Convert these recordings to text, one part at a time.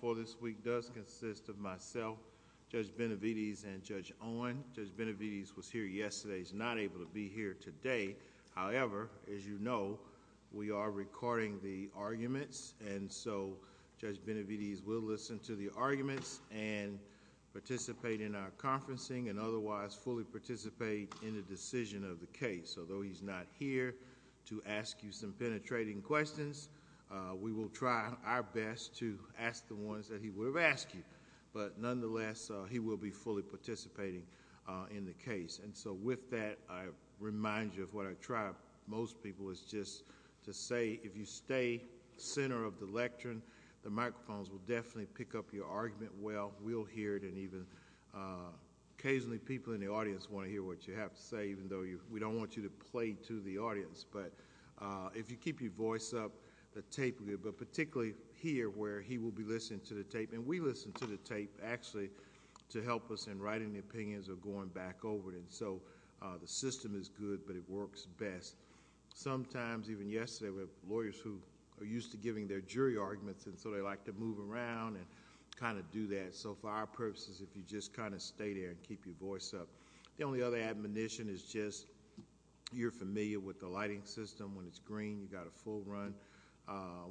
for this week does consist of myself, Judge Benavides, and Judge Owen. Judge Benavides was here yesterday. He's not able to be here today. However, as you know, we are recording the arguments, and so Judge Benavides will listen to the arguments and participate in our conferencing and otherwise fully participate in the decision of the case. Although he's not here to ask you some penetrating questions, we will try our best to ask the ones that he would have asked you. But nonetheless, he will be fully participating in the case. And so with that, I remind you of what I try most people is just to say, if you stay center of the lectern, the microphones will definitely pick up your argument well. We'll hear it and even occasionally people in the audience want to hear what you have to say, even though we don't want you to play to the audience. But if you keep your voice up, the tape will be, but particularly here where he will be listening to the tape, and we listen to the tape actually to help us in writing the opinions or going back over it. And so the system is good, but it works best. Sometimes, even yesterday, we have lawyers who are used to giving their jury arguments, and so they like to move around and kind of do that. So for our purposes, if you just kind of stay there and keep your voice up. The only other admonition is just you're familiar with the lighting system. When it's green, you've got a full run.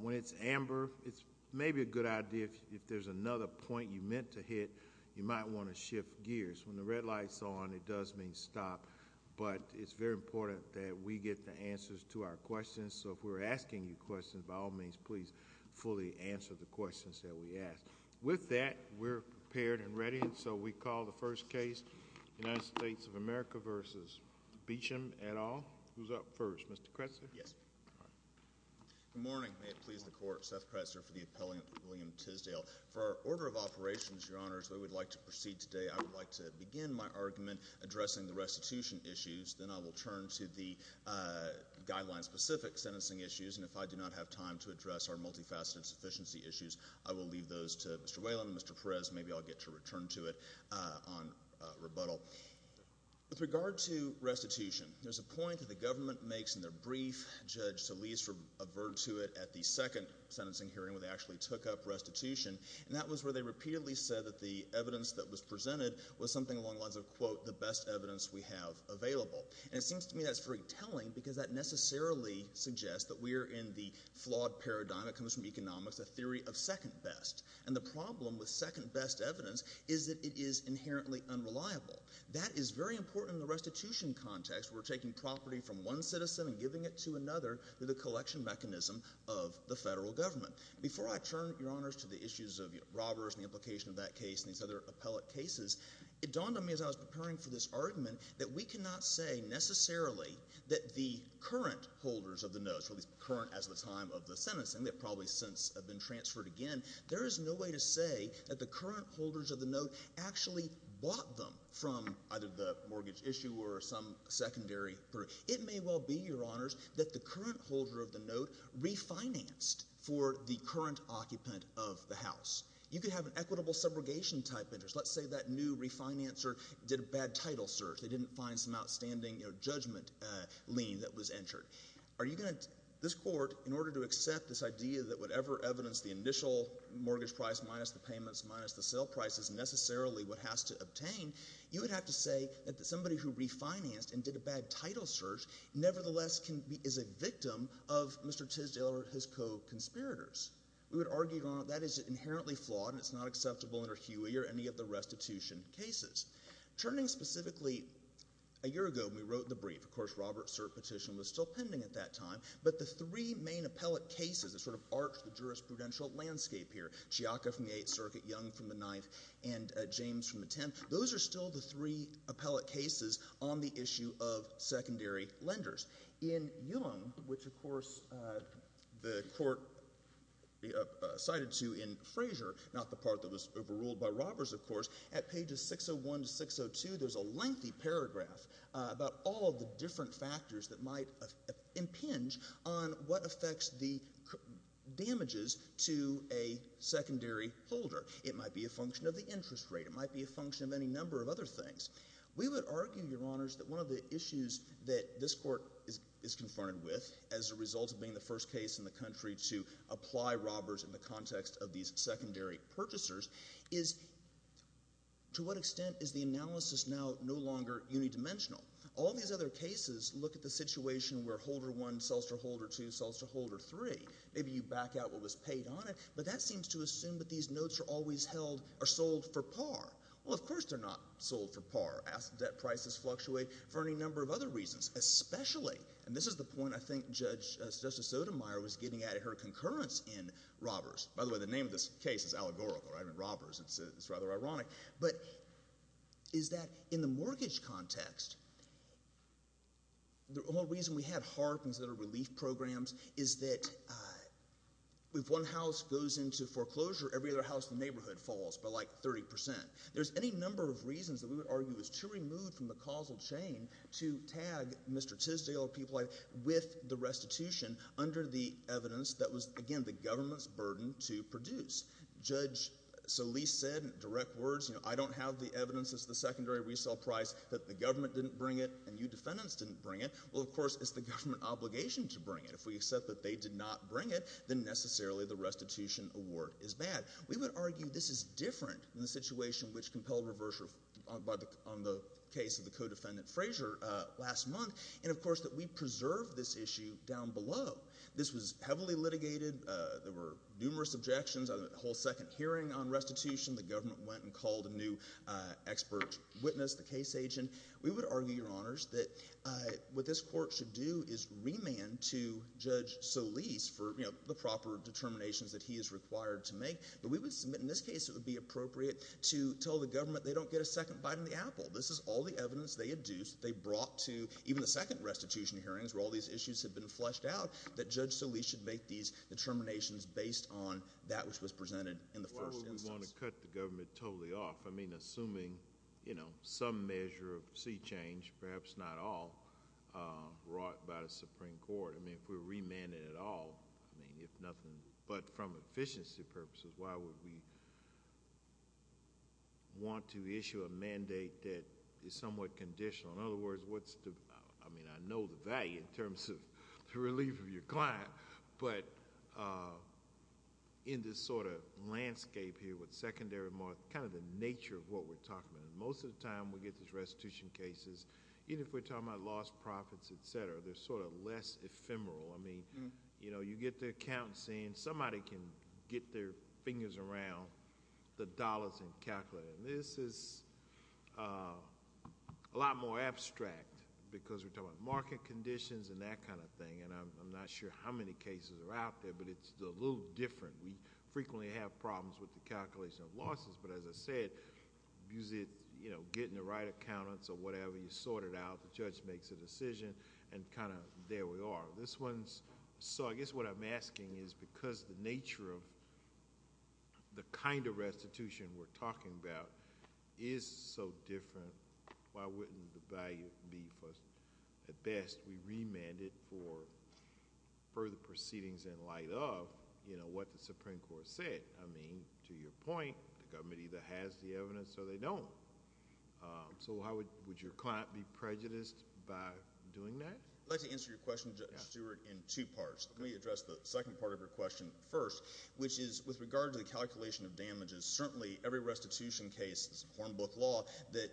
When it's amber, it's maybe a good idea if there's another point you meant to hit, you might want to shift gears. When the red light's on, it does mean stop, but it's very important that we get the answers to our questions. So if we're asking you questions, by all means, please fully answer the questions that we ask. With that, we're prepared and ready, and so we call the first case, United States of America v. Beecham et al. Who's up first? Mr. Kressler? Yes. Good morning. May it please the Court, Seth Kressler for the appellant, William Tisdale. For our order of operations, Your Honors, we would like to proceed today. I would like to begin my argument addressing the restitution issues. Then I will turn to the guideline-specific sentencing issues, and if I do not have time to address our multifaceted sufficiency issues, I will leave those to Mr. Whalen and Mr. Perez. Maybe I'll get to return to it on rebuttal. With regard to restitution, there's a point that the government makes in their brief. Judge Solis averred to it at the second sentencing hearing, where they actually took up restitution, and that was where they repeatedly said that the evidence that was presented was something along the lines of, quote, the best evidence we have available. And it seems to me that's very telling, because that necessarily suggests that we are in the flawed paradigm that comes from economics, a theory of second-best. And the problem with second-best evidence is that it is inherently unreliable. That is very important in the restitution context, where we're taking property from one citizen and giving it to another through the collection mechanism of the federal government. Before I turn, Your Honors, to the issues of robbers and the implication of that case and these other appellate cases, it dawned on me as I was preparing for this argument that we cannot say necessarily that the current holders of the note, at least current as the time of the sentencing, they probably since have been transferred again, there is no way to say that the current holders of the note actually bought them from either the mortgage issuer or some secondary group. It may well be, Your Honors, that the current holder of the note refinanced for the current occupant of the house. You could have an equitable subrogation type interest. Let's say that new refinancer did a bad title search. They didn't find some outstanding judgment lien that was entered. This Court, in order to accept this idea that whatever evidence the initial mortgage price minus the payments minus the sale price is necessarily what has to obtain, you would have to say that somebody who refinanced and did a bad title search nevertheless is a victim of Mr. Tisdale or his co-conspirators. We would argue, Your Honor, that is inherently flawed and it's not acceptable under Huey or any of the restitution cases. Turning specifically a year ago when we wrote the brief, of course, Robert's cert petition was still pending at that time, but the three main appellate cases that sort of arch the jurisprudential landscape here, Chiaca from the Eighth Circuit, Young from the Ninth, and James from the Tenth, those are still the three appellate cases on the issue of secondary lenders. In Young, which, of course, the Court cited to in Frazier, not the part that was overruled by Roberts, of course, at pages 601 to 602, there's a lengthy paragraph about all of the different factors that might impinge on what affects the damages to a secondary holder. It might be a function of the interest rate. It might be a function of any number of other things. We would argue, Your Honors, that one of the issues that this Court is confronted with as a result of being the first case in the country to apply Roberts in the context of these secondary purchasers is to what extent is the analysis now no longer unidimensional? All these other cases look at the situation where holder one sells to holder two, sells to holder three. Maybe you back out what was paid on it, but that seems to assume that these notes are always held or sold for par. Well, of course, they're not sold for par. Asset debt prices fluctuate for any number of other reasons, especially—and this is the point I think Justice Sotomayor was getting at in her concurrence in Roberts. By the way, the name of this case is allegorical, right? I mean, Roberts. It's rather ironic. But is that in the mortgage context, the only reason we had HARP instead of relief programs is that if one house goes into foreclosure, every other house in the neighborhood falls by, like, 30 percent. There's any number of reasons that we would argue is too removed from the causal chain to tag Mr. Tisdale or people like that with the restitution under the evidence that was, again, the government's burden to produce. Judge Solis said in direct words, you know, I don't have the evidence. It's the secondary resale price that the government didn't bring it and you defendants didn't bring it. Well, of course, it's the government obligation to bring it. If we accept that they did not bring it, then necessarily the restitution award is bad. We would argue this is different in the situation which compelled reversal on the case of the co-defendant Frazier last month and, of course, that we preserved this issue down below. This was heavily litigated. There were numerous objections on the whole second hearing on restitution. The government went and called a new expert witness, the case agent. We would argue, Your Honors, that what this court should do is remand to the proper determinations that he is required to make, but we would submit in this case it would be appropriate to tell the government they don't get a second bite on the apple. This is all the evidence they induced, they brought to even the second restitution hearings where all these issues have been fleshed out that Judge Solis should make these determinations based on that which was presented in the first instance. Why would we want to cut the government totally off? I mean, assuming, you know, some measure of sea change, perhaps not all, brought by the Supreme Court. I mean, if we're remanded at all, I mean, if nothing but from efficiency purposes, why would we want to issue a mandate that is somewhat conditional? In other words, what's the... I mean, I know the value in terms of the relief of your client, but in this sort of landscape here with secondary... kind of the nature of what we're talking about. Most of the time we get these ephemeral. I mean, you know, you get the accountant saying somebody can get their fingers around the dollars and calculate it. This is a lot more abstract because we're talking about market conditions and that kind of thing, and I'm not sure how many cases are out there, but it's a little different. We frequently have problems with the calculation of losses, but as I said, usually, you know, getting the right accountants or whatever, you sort it out, the judge makes a decision. So, I guess what I'm asking is because the nature of the kind of restitution we're talking about is so different, why wouldn't the value be for... at best, we remand it for further proceedings in light of, you know, what the Supreme Court said. I mean, to your point, the government either has the evidence or they don't. So, would your client be prejudiced by doing that? I'd like to answer your question, Judge Stewart, in two parts. Let me address the second part of your question first, which is with regard to the calculation of damages, certainly every restitution case, this Hornbook law, that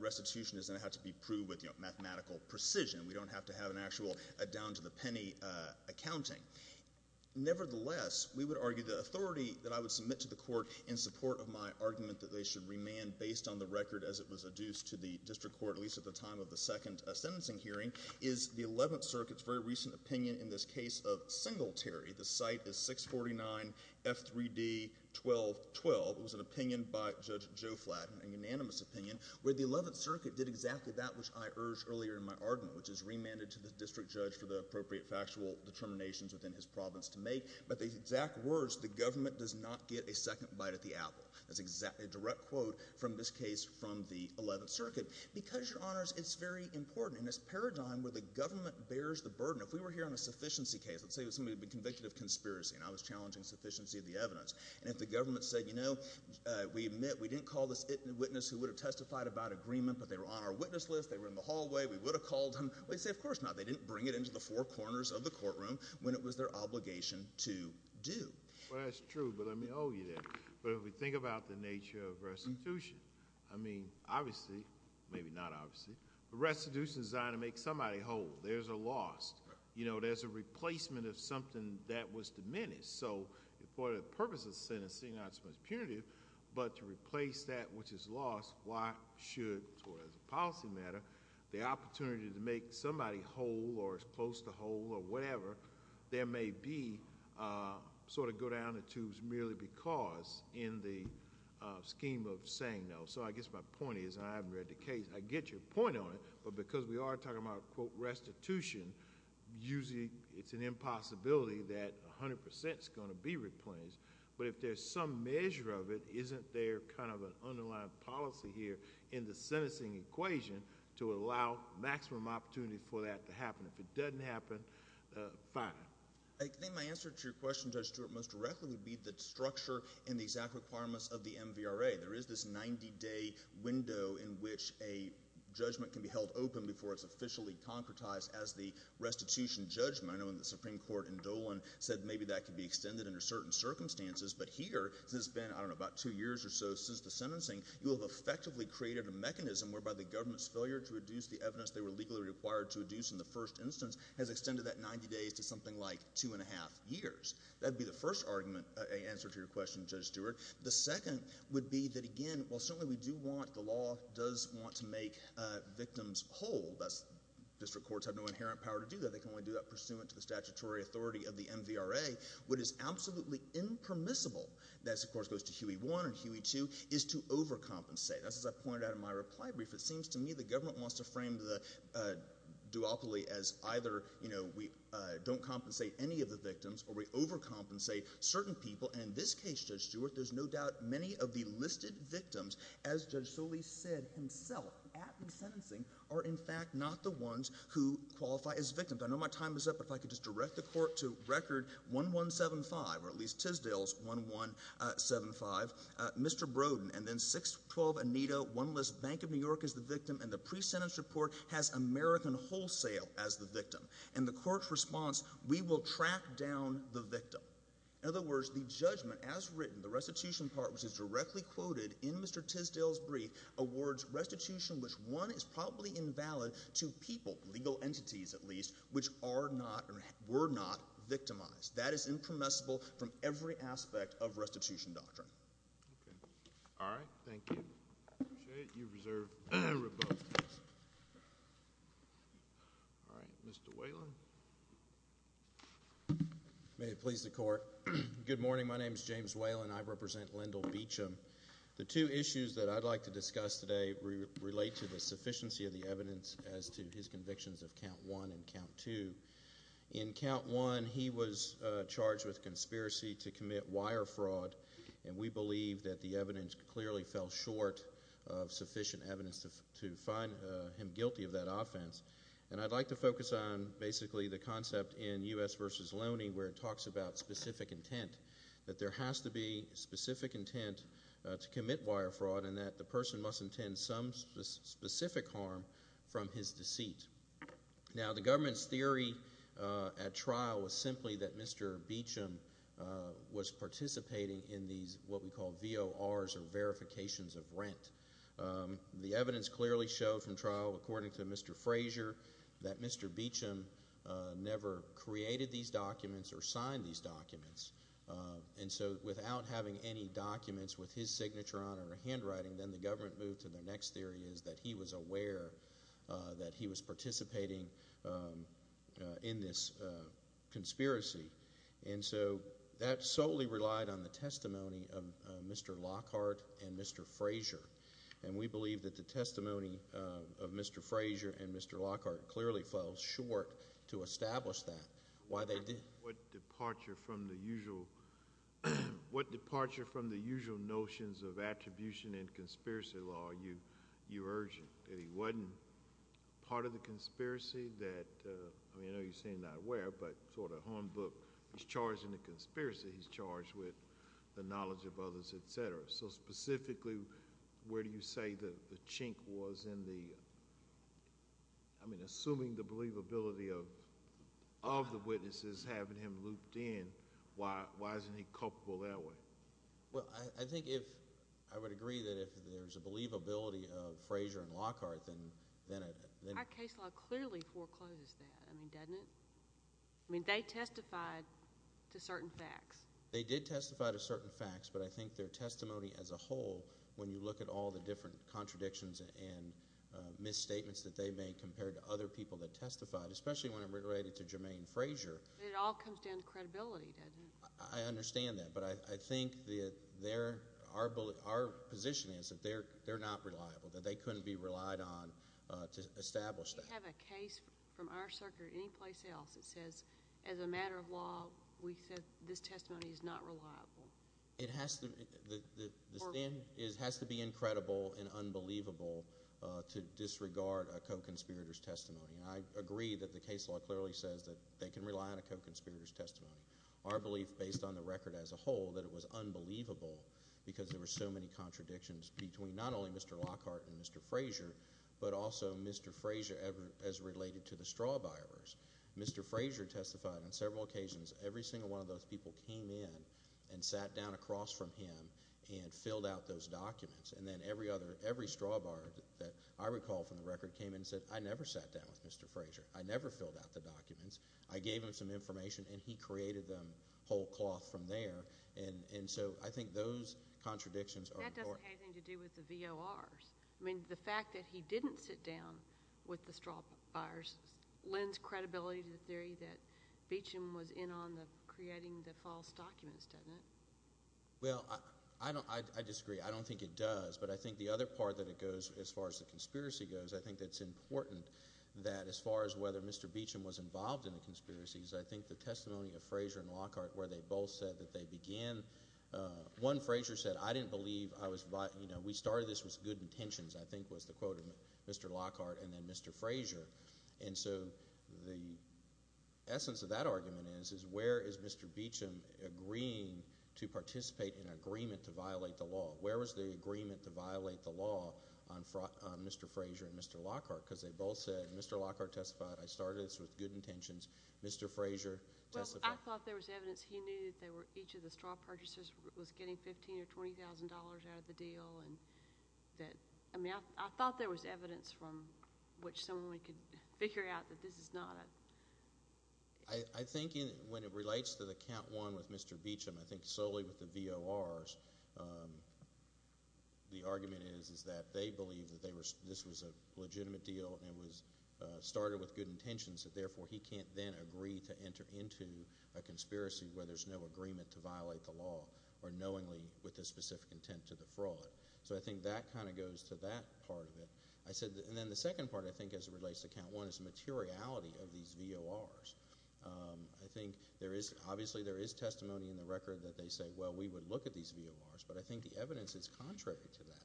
restitution is going to have to be proved with, you know, mathematical precision. We don't have to have an actual down-to-the-penny accounting. Nevertheless, we would argue the authority that I would submit to the court in support of my argument that they should remand based on the record as it was adduced to the hearing is the Eleventh Circuit's very recent opinion in this case of Singletary. The site is 649 F3D 1212. It was an opinion by Judge Joe Flatton, a unanimous opinion, where the Eleventh Circuit did exactly that which I urged earlier in my argument, which is remand it to the district judge for the appropriate factual determinations within his province to make. But the exact words, the government does not get a second bite at the apple. That's exactly a direct quote from this from the Eleventh Circuit. Because, Your Honors, it's very important in this paradigm where the government bears the burden. If we were here on a sufficiency case, let's say somebody had been convicted of conspiracy, and I was challenging sufficiency of the evidence, and if the government said, you know, we admit we didn't call this witness who would have testified about agreement, but they were on our witness list, they were in the hallway, we would have called them, we'd say, of course not. They didn't bring it into the four corners of the courtroom when it was their obligation to do. Well, that's true, but let me owe you that. But if we think about the nature of restitution, I mean, obviously, maybe not obviously, but restitution is designed to make somebody whole. There's a loss. You know, there's a replacement of something that was diminished. So, for the purpose of sentencing, not so much punitive, but to replace that which is lost, why should, as far as a policy matter, the opportunity to make somebody whole or as close to whole or whatever, there may be, sort of, go down the tubes merely because in the scheme of saying no. So, I guess my point is, and I haven't read the case, I get your point on it, but because we are talking about, quote, restitution, usually it's an impossibility that 100% is going to be replaced. But if there's some measure of it, isn't there kind of an underlying policy here in the sentencing equation to allow maximum opportunity for that to happen? If it doesn't happen, fine. I think my answer to your question, Judge Stewart, most directly would be the structure and the exact requirements of the MVRA. There is this 90-day window in which a judgment can be held open before it's officially concretized as the restitution judgment. I know in the Supreme Court in Dolan said maybe that could be extended under certain circumstances, but here, since it's been, I don't know, about two years or so since the sentencing, you have effectively created a mechanism whereby the government's failure to reduce the evidence they were legally required to reduce in the first instance has extended that 90 days to something like two and a half years. That would be the first answer to your question, Judge Stewart. The second would be that, again, while certainly we do want, the law does want to make victims whole. District courts have no inherent power to do that. They can only do that pursuant to the statutory authority of the MVRA. What is absolutely impermissible, this, of course, goes to Huey 1 and Huey 2, is to overcompensate. That's as I pointed out in my reply brief. It seems to me the government wants to frame the duopoly as either we don't compensate any of the victims or we overcompensate certain people. In this case, Judge Stewart, there's no doubt many of the listed victims, as Judge Solis said himself at the sentencing, are in fact not the ones who qualify as victims. I know my time is up. If I could just direct the Court to Record 1175, or at least Tisdale's 1175. Mr. Brodin, and then 612, Anita, one list, Bank of New York is the victim, and the pre-sentence report has American Wholesale as the victim. And the Court's response, we will track down the victim. In other words, the judgment, as written, the restitution part, which is directly quoted in Mr. Tisdale's brief, awards restitution which, one, is probably invalid to people, legal entities, at least, which are not, or were not, victimized. That is impermissible from every aspect of restitution doctrine. All right. Thank you. I appreciate it. You've reserved a rebuttal. All right. Mr. Whalen. May it please the Court. Good morning. My name is James Whalen. I represent Lindell Beecham. The two issues that I'd like to discuss today relate to the sufficiency of the evidence as to his convictions of Count 1 and Count 2. In Count 1, he was charged with conspiracy to commit wire fraud, and we believe that the evidence clearly fell short of sufficient evidence to find him guilty of that offense. And I'd like to focus on, basically, the concept in U.S. v. Loney where it talks about specific intent, that there has to be specific intent to commit wire fraud, and that the person must intend some specific harm from his deceit. Now, the government's theory at trial was simply that Mr. Beecham was participating in these what we call VORs, or Verifications of Rent. The evidence clearly showed from trial, according to Mr. Frazier, that Mr. Beecham never created these documents or signed these documents. And so, without having any documents with his signature on or a handwriting, then the government moved to the next theory is that he was aware that he was participating in this conspiracy. And so, that solely relied on the testimony of Mr. Lockhart and Mr. Frazier, and we believe that the testimony of Mr. Frazier and Mr. Lockhart clearly fell short to establish that. Why they did what departure from the usual, what departure from the usual notions of attribution and conspiracy law are you urging? That he wasn't part of the conspiracy that, I mean, I know you're saying not where, but sort of homebook. He's charged in the conspiracy. He's charged with the knowledge of others, etc. So, specifically, where do you say the chink was in the, I mean, assuming the believability of the witnesses having him looped in, why isn't he culpable that way? Well, I think if, I would agree that if there's a believability of Frazier and Lockhart, then... Our case law clearly forecloses that, I mean, doesn't it? I mean, they testified to certain facts. They did testify to certain facts, but I think their misstatements that they made compared to other people that testified, especially when it related to Jermaine Frazier... It all comes down to credibility, doesn't it? I understand that, but I think that they're, our position is that they're not reliable, that they couldn't be relied on to establish that. If you have a case from our circuit or any place else that says, as a matter of law, we said this testimony is not reliable. It has to, the stand has to be credible and unbelievable to disregard a co-conspirator's testimony, and I agree that the case law clearly says that they can rely on a co-conspirator's testimony. Our belief, based on the record as a whole, that it was unbelievable because there were so many contradictions between not only Mr. Lockhart and Mr. Frazier, but also Mr. Frazier as related to the straw buyers. Mr. Frazier testified on several occasions. Every single one of those people came in and sat down across from him and filled out those documents, and then every other, every straw buyer that I recall from the record came in and said, I never sat down with Mr. Frazier. I never filled out the documents. I gave him some information, and he created them whole cloth from there, and so I think those contradictions are important. That doesn't have anything to do with the VORs. I mean, the fact that he didn't sit down with the straw buyers lends credibility to the theory that Well, I don't, I disagree. I don't think it does, but I think the other part that it goes, as far as the conspiracy goes, I think that's important that as far as whether Mr. Beecham was involved in the conspiracies, I think the testimony of Frazier and Lockhart, where they both said that they began, one Frazier said, I didn't believe I was, you know, we started this with good intentions, I think was the quote of Mr. Lockhart and then Mr. Frazier, and so the Mr. Beecham agreeing to participate in an agreement to violate the law. Where was the agreement to violate the law on Mr. Frazier and Mr. Lockhart? Because they both said, Mr. Lockhart testified, I started this with good intentions, Mr. Frazier testified. Well, I thought there was evidence he knew that they were, each of the straw purchasers was getting $15,000 or $20,000 out of the deal, and that, I mean, I thought there was evidence from which someone could figure out that this is not a I think when it relates to the count one with Mr. Beecham, I think solely with the VORs, the argument is, is that they believe that they were, this was a legitimate deal and it was started with good intentions, that therefore he can't then agree to enter into a conspiracy where there's no agreement to violate the law or knowingly with the specific intent to defraud. So I think that kind of goes to that part of it. I said, and then the second part, I think, as it relates to count one is the materiality of these VORs. I think there is, obviously, there is testimony in the record that they say, well, we would look at these VORs, but I think the evidence is contrary to that.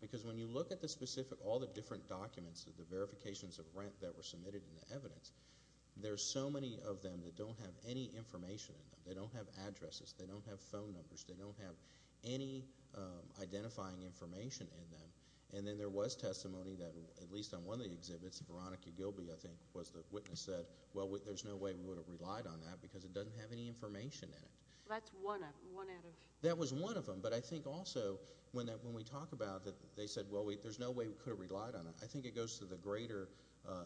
Because when you look at the specific, all the different documents, the verifications of rent that were submitted in the evidence, there's so many of them that don't have any information in them. They don't have addresses, they don't have phone numbers, they don't have any identifying information in them. And then there was testimony that, at least on one of the exhibits, Veronica Gilby, I think, was the witness that said, well, there's no way we would have relied on that because it doesn't have any information in it. That's one out of... That was one of them. But I think also when we talk about that, they said, well, there's no way we could have relied on it. I think it goes to the greater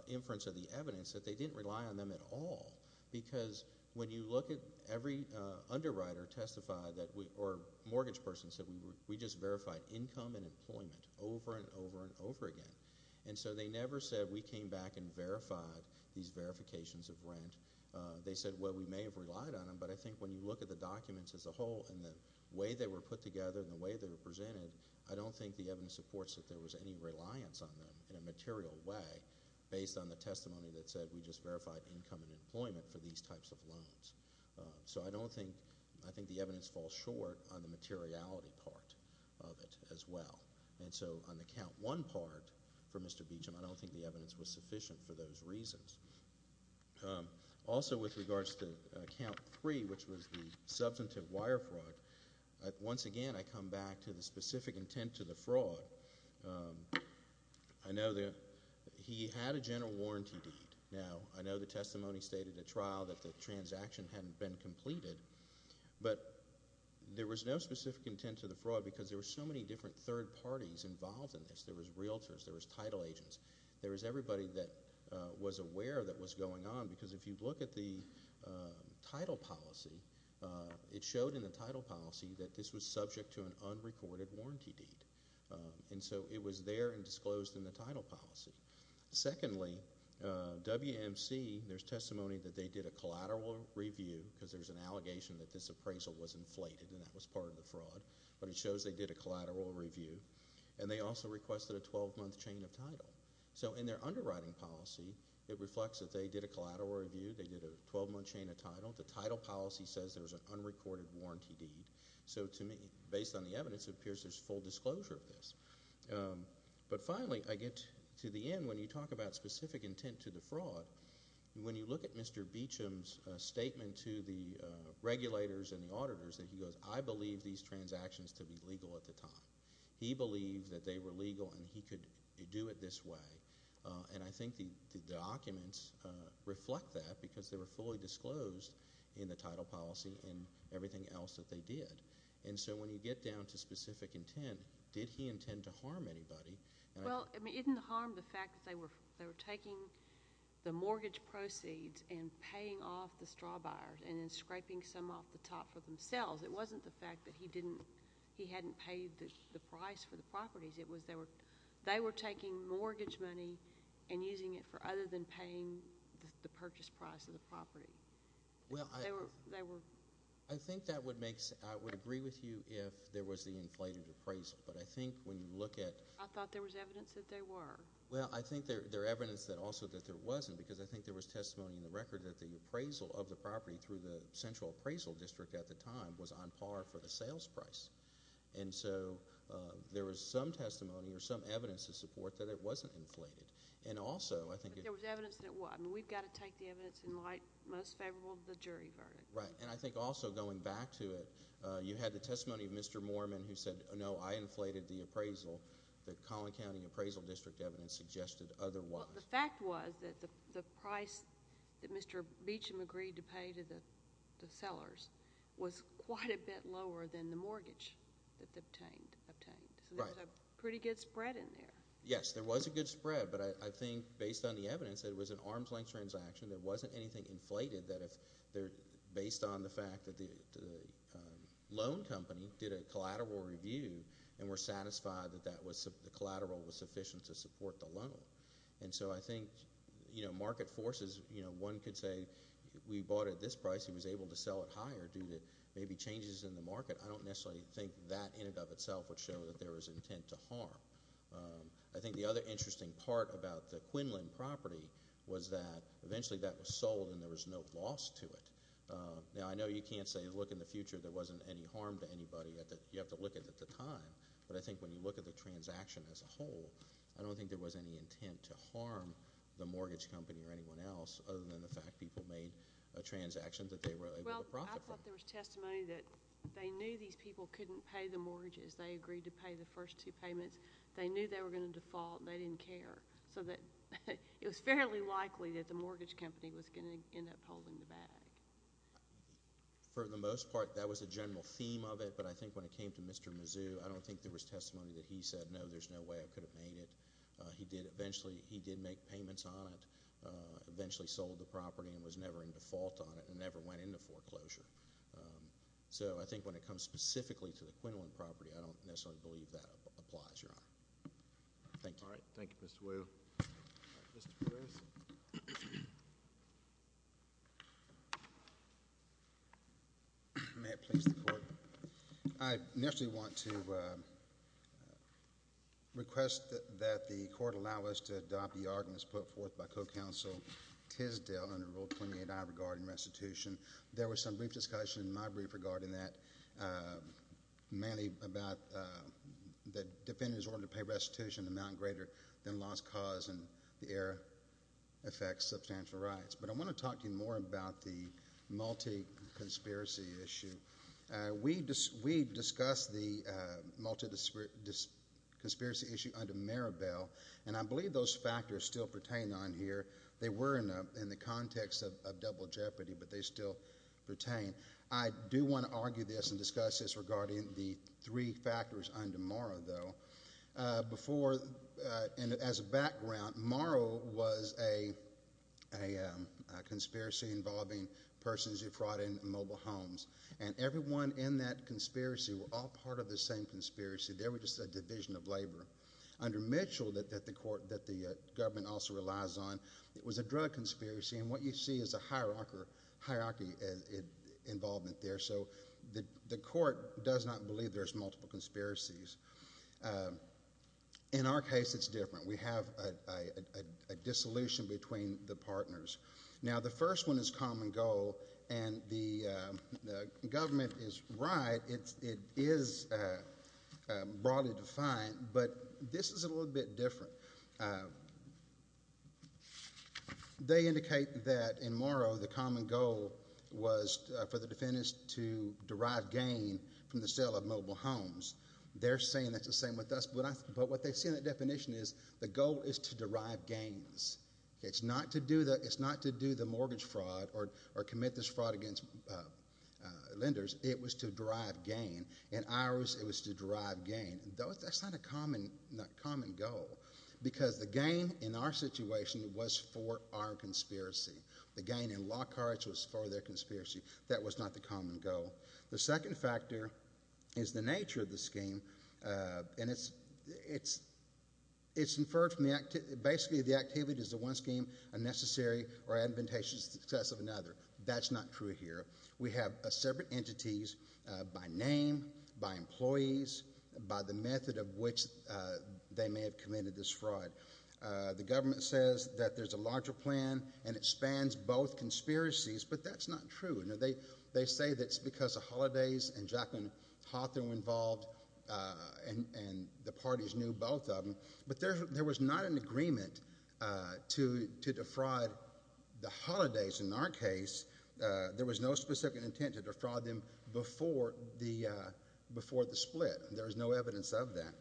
inference of the evidence that they didn't rely on them at all. Because when you look at every underwriter testify that we, or mortgage person said, we just verified income and employment over and over and over again. And so they never said we came back and verified these verifications of rent. They said, well, we may have relied on them, but I think when you look at the documents as a whole and the way they were put together and the way they were presented, I don't think the evidence supports that there was any reliance on them in a material way based on the testimony that said we just verified income and employment for these types of loans. So I don't think... I think the evidence falls short on the materiality part of it as well. And so on the count one part for Mr. Beecham, I don't think the evidence was sufficient for those reasons. Also with regards to count three, which was the substantive wire fraud, once again, I come back to the specific intent to the fraud. I know that he had a general warranty deed. Now, I know the but there was no specific intent to the fraud because there were so many different third parties involved in this. There was realtors. There was title agents. There was everybody that was aware that was going on because if you look at the title policy, it showed in the title policy that this was subject to an unrecorded warranty deed. And so it was there and disclosed in the title policy. Secondly, WMC, there's testimony that they did a collateral review because there's an appraisal was inflated and that was part of the fraud. But it shows they did a collateral review. And they also requested a 12-month chain of title. So in their underwriting policy, it reflects that they did a collateral review. They did a 12-month chain of title. The title policy says there's an unrecorded warranty deed. So to me, based on the evidence, it appears there's full disclosure of this. But finally, I get to the end when you talk about specific intent to the fraud. When you look at Mr. Beecham's statement to the regulators and the auditors that he goes, I believe these transactions to be legal at the time. He believed that they were legal and he could do it this way. And I think the documents reflect that because they were fully disclosed in the title policy and everything else that they did. And so when you get down to specific intent, did he intend to harm anybody? Well, it didn't harm the fact that they were taking the mortgage proceeds and paying off the straw buyers and then scraping some off the top for themselves. It wasn't the fact that he didn't—he hadn't paid the price for the properties. It was they were taking mortgage money and using it for other than paying the purchase price of the property. They were— I think that would make—I would agree with you if there was the inflated appraisal. But I think when you look at— I thought there was evidence that there were. Well, I think there evidence that also that there wasn't because I think there was testimony in the record that the appraisal of the property through the central appraisal district at the time was on par for the sales price. And so there was some testimony or some evidence to support that it wasn't inflated. And also I think— But there was evidence that it was. I mean, we've got to take the evidence in light most favorable to the jury verdict. Right. And I think also going back to it, you had the testimony of Mr. Moorman who said, no, I inflated the appraisal that Collin County appraisal district evidence suggested otherwise. The fact was that the price that Mr. Beecham agreed to pay to the sellers was quite a bit lower than the mortgage that they obtained. So there was a pretty good spread in there. Yes, there was a good spread. But I think based on the evidence that it was an arm's-length transaction, there wasn't anything inflated that if—based on the fact that the loan company did a collateral review and were satisfied that the collateral was sufficient to support the loan. And so I think, you know, market forces, you know, one could say, we bought it at this price. He was able to sell it higher due to maybe changes in the market. I don't necessarily think that in and of itself would show that there was intent to harm. I think the other interesting part about the Quinlan property was that eventually that was any harm to anybody. You have to look at the time. But I think when you look at the transaction as a whole, I don't think there was any intent to harm the mortgage company or anyone else other than the fact people made a transaction that they were able to profit from. Well, I thought there was testimony that they knew these people couldn't pay the mortgages. They agreed to pay the first two payments. They knew they were going to default. They didn't care. So it was fairly likely that the mortgage company was going to end up holding the bag. For the most part, that was the general theme of it. But I think when it came to Mr. Mizzou, I don't think there was testimony that he said, no, there's no way I could have made it. He did eventually, he did make payments on it, eventually sold the property and was never in default on it and never went into foreclosure. So I think when it comes specifically to the Quinlan property, I don't necessarily believe that applies, Your Honor. Thank you. All right. Thank you, Mr. Whale. Mr. Perez. May it please the Court. I initially want to request that the Court allow us to adopt the arguments put forth by Co-Counsel Tisdale under Rule 28I regarding restitution. There was some brief discussion in my brief regarding that, mainly about that defendants' order to pay restitution amount greater than lost cause and the error affects substantial rights. But I want to talk to you more about the multi-conspiracy issue. We discussed the multi-conspiracy issue under Maribel, and I believe those factors still pertain on here. They were in the context of double jeopardy, but they still pertain. I do want to argue this and discuss this regarding the three factors under Morrow, though. As a background, Morrow was a conspiracy involving persons who fraud in mobile homes, and everyone in that conspiracy were all part of the same conspiracy. They were just a division of labor. Under Mitchell, that the government also relies on, it was a drug conspiracy, and what you see is a hierarchy involvement there. So the Court does not believe there's multiple conspiracies. In our case, it's different. We have a dissolution between the partners. Now, the first one is common goal, and the government is right. It is broadly defined, but this is a little bit different. They indicate that in Morrow, the common goal was for the mobile homes. They're saying that's the same with us, but what they see in that definition is the goal is to derive gains. It's not to do the mortgage fraud or commit this fraud against lenders. It was to derive gain. In ours, it was to derive gain. That's not a common goal, because the gain in our situation was for our conspiracy. The gain in Lockhart's was for their conspiracy. That was not the common goal. The second factor is the nature of the scheme, and it's inferred from the activity. Basically, the activity is the one scheme, a necessary or admonition success of another. That's not true here. We have separate entities by name, by employees, by the method of which they may have committed this fraud. The government says that there's a larger plan, and it spans both conspiracies, but that's not true. They say that's because of holidays, and Jacqueline Hawthorne was involved, and the parties knew both of them, but there was not an agreement to defraud the holidays in our case. There was no specific intent to defraud them before the split, and there is no evidence of that.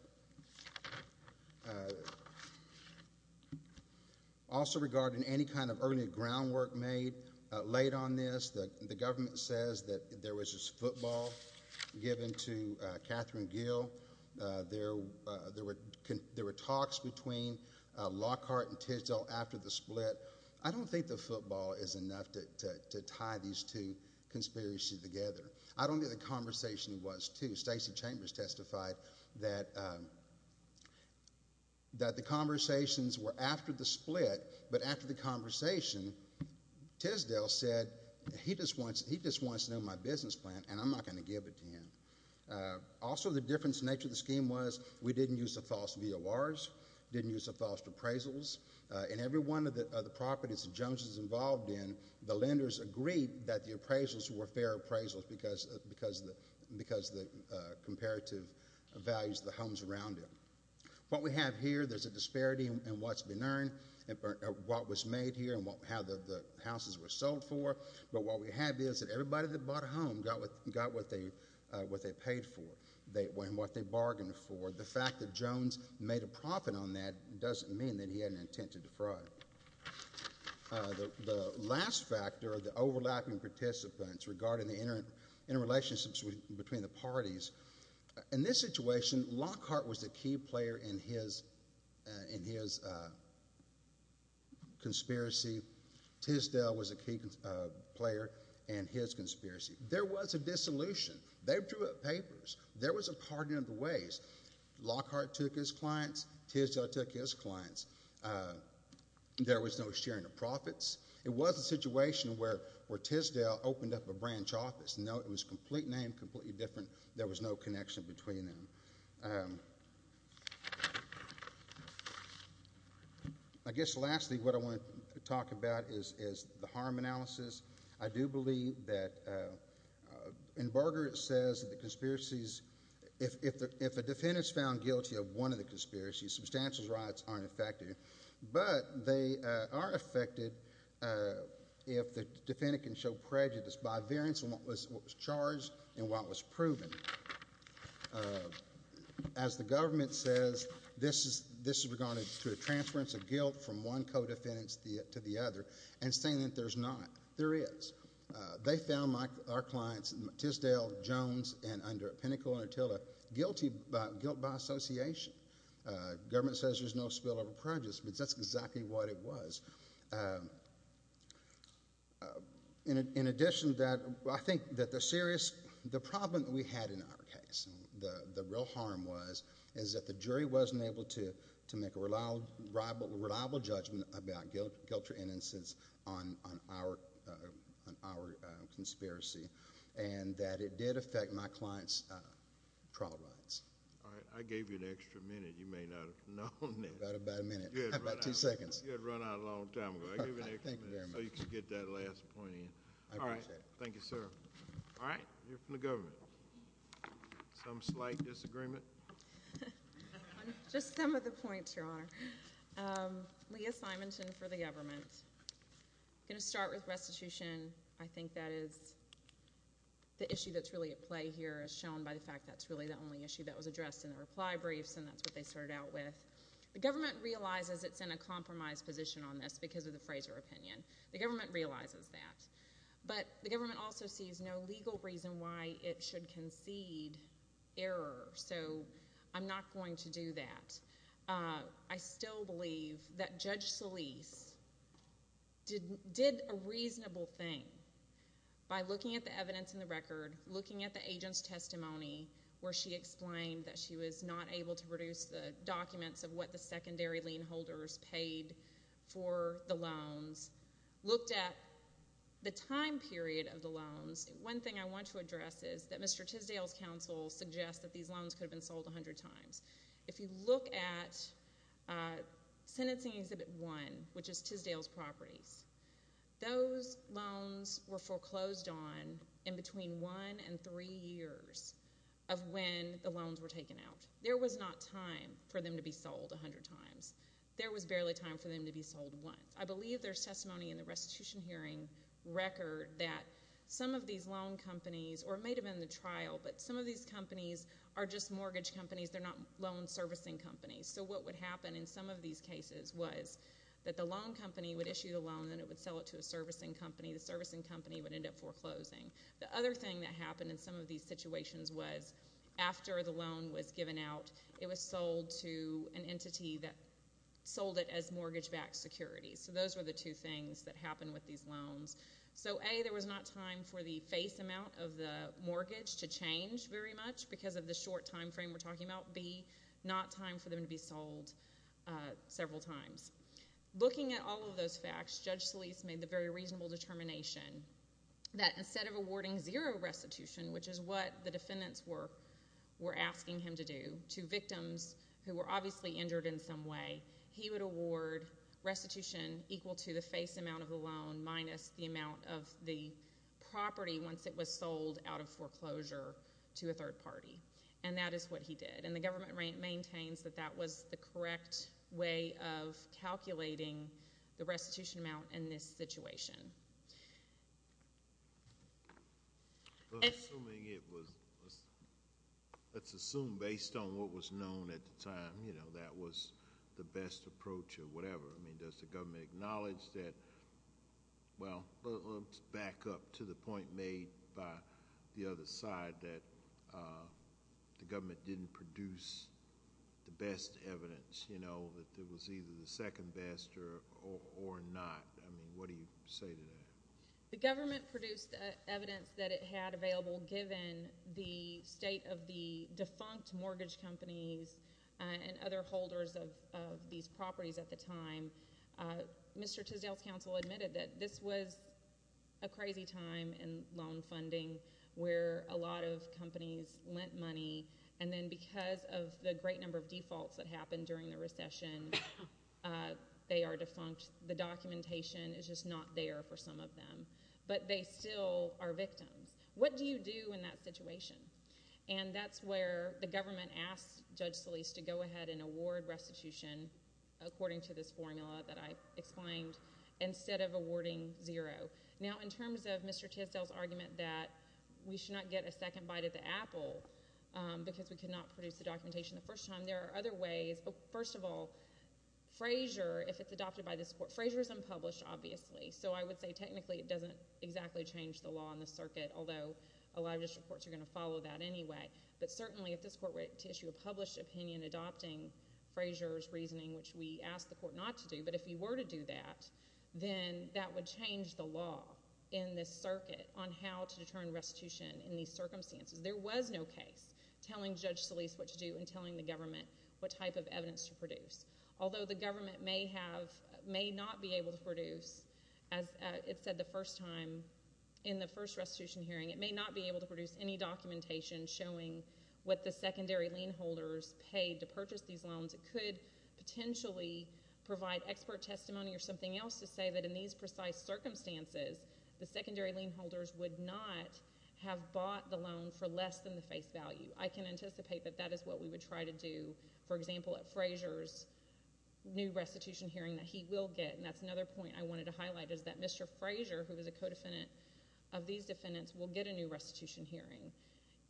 Also, regarding any kind of early groundwork made late on this, the government says that there was this football given to Catherine Gill. There were talks between Lockhart and Tisdall after the split. I don't think the football is enough to tie these two conspiracies together. I don't think the conversations were after the split, but after the conversation, Tisdall said he just wants to know my business plan, and I'm not going to give it to him. Also, the difference in the nature of the scheme was we didn't use the false VORs, didn't use the false appraisals, and every one of the properties that Jones was involved in, the lenders agreed that the appraisals were fair appraisals because of the comparative values of the homes around him. What we have here, there's a disparity in what's been earned, what was made here, and how the houses were sold for, but what we have is that everybody that bought a home got what they paid for and what they bargained for. The fact that Jones made a profit on that doesn't mean that he had an intent to defraud. The last factor are the overlapping participants regarding the interrelationships between the parties. In this situation, Lockhart was a key player in his conspiracy. Tisdall was a key player in his conspiracy. There was a dissolution. They drew up papers. There was a pardon of the ways. Lockhart took his clients. Tisdall took his clients. There was no sharing of profits. It was a situation where Tisdall opened up a branch office. No, it was a complete name, completely different. There was no connection between them. I guess lastly, what I want to talk about is the harm analysis. I do believe that in Berger it says that the conspiracies, if a defendant is found guilty of one of the conspiracies, substantial rights aren't affected, but they are affected if the defendant can show prejudice by variance in what was charged and what was proven. As the government says, this is regarding to a transference of guilt from one co-defendant to the other and saying that there's not. There is. They found our clients, Tisdall, Jones, and under Pinnacle and Attila, guilty by association. The government says there's no spillover prejudice, but that's exactly what it was. In addition to that, I think that the serious—the problem that we had in our case, the real harm was, is that the jury wasn't able to make a reliable judgment about guilt or innocence on our conspiracy and that it did affect my client's trial rights. All right. I gave you an extra minute. You may not have known that. About a minute. About two seconds. You had run out a long time ago. I gave you an extra minute so you could get that last point in. All right. Thank you, sir. All right. You're from the government. Some slight disagreement? Just some of the points, Your Honor. Leah Simonton for the government. I'm going to start with restitution. I think that is the issue that's really at play here, as shown by the fact that's really the only issue that was addressed in the reply briefs and that's what they started out with. The government realizes it's in a compromised position on this because of the Fraser opinion. The government realizes that. But the government also sees no way to concede error. So I'm not going to do that. I still believe that Judge Solis did a reasonable thing by looking at the evidence in the record, looking at the agent's testimony where she explained that she was not able to produce the documents of what the secondary lien holders paid for the loans, looked at the time period of the loans. One thing I want to address is that Mr. Tisdale's counsel suggests that these loans could have been sold 100 times. If you look at Sentencing Exhibit 1, which is Tisdale's properties, those loans were foreclosed on in between one and three years of when the loans were taken out. There was not time for them to be sold 100 times. There was barely time for them to be sold once. I believe there's some of these loan companies, or it may have been the trial, but some of these companies are just mortgage companies. They're not loan servicing companies. So what would happen in some of these cases was that the loan company would issue the loan and it would sell it to a servicing company. The servicing company would end up foreclosing. The other thing that happened in some of these situations was after the loan was given out, it was sold to an entity that sold it as mortgage-backed securities. So those were the two things that mortgage to change very much because of the short time frame we're talking about, B, not time for them to be sold several times. Looking at all of those facts, Judge Solis made the very reasonable determination that instead of awarding zero restitution, which is what the defendants were asking him to do, to victims who were obviously injured in some way, he would award restitution equal to the face amount of the loan minus the amount of the property once it was sold out of foreclosure to a third party. And that is what he did. And the government maintains that that was the correct way of calculating the restitution amount in this situation. Assuming it was—let's assume based on what was known at the time, you know, that was the best approach or whatever. I mean, does the government acknowledge that—well, let's back up to the point made by the other side, that the government didn't produce the best evidence, you know, that there was either the second best or not. I mean, what do you say to that? The government produced evidence that it had available given the state of the defunct mortgage companies and other holders of these properties at the time. Mr. Tisdale's counsel admitted that this was a crazy time in loan funding where a lot of companies lent money, and then because of the great number of defaults that happened during the recession, they are defunct. The documentation is just not there for some of them. But they still are victims. What do you do in that situation? And that's where the government asked Judge Solis to go ahead and award restitution, according to this formula that I explained, instead of awarding zero. Now, in terms of Mr. Tisdale's argument that we should not get a second bite at the apple because we could not produce the documentation the first time, there are other ways. First of all, Frazier, if it's adopted by this Court—Frazier's unpublished, obviously, so I would say technically it doesn't exactly change the law in the circuit, although a lot of district courts are going to follow that anyway—but certainly, if this Court were to issue a published opinion adopting Frazier's reasoning, which we asked the Court not to do, but if you were to do that, then that would change the law in this circuit on how to determine restitution in these circumstances. There was no case telling Judge Solis what to do and telling the government what type of evidence to produce. Although the government may not be able to produce, as it said the first time in the first restitution hearing, it may not be able to produce any documentation showing what the secondary lien holders paid to purchase these loans. It could potentially provide expert testimony or something else to say that in these precise circumstances, the secondary lien holders would not have bought the loan for less than the face value. I can anticipate that that is what we would try to do, for example, at Frazier's new restitution hearing that he will get, and that's another point I wanted to highlight, is that Mr. Frazier, who is a co-defendant of these defendants, will get a new restitution hearing,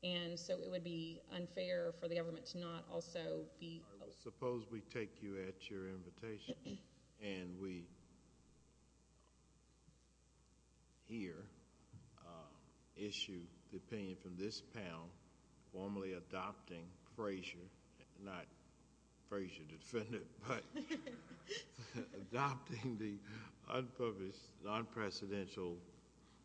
and so it would be unfair for the government to not also be... Suppose we take you at your invitation, and we here issue the opinion from this panel formally adopting Frazier, not Frazier, the defendant, but adopting the unpublished, non-precedential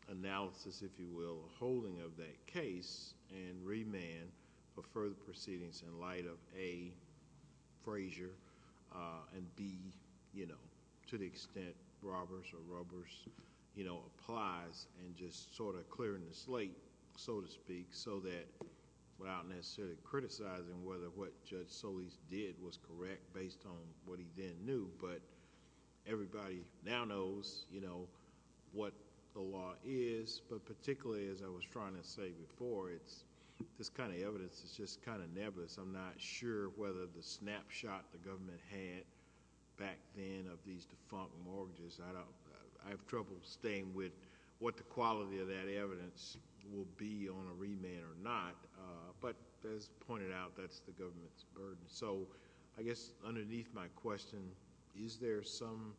analysis, if you will, holding of that case, and remand for further proceedings in light of A, Frazier, and B, to the extent robbers or rubbers applies, and just sort of clearing the slate, so to speak, so that without necessarily criticizing whether what Judge Solis did was what the law is, but particularly, as I was trying to say before, this kind of evidence is just kind of nebulous. I'm not sure whether the snapshot the government had back then of these defunct mortgages... I have trouble staying with what the quality of that evidence will be on a remand or not, but as pointed out, that's the government's burden. So, I guess, underneath my question, is there some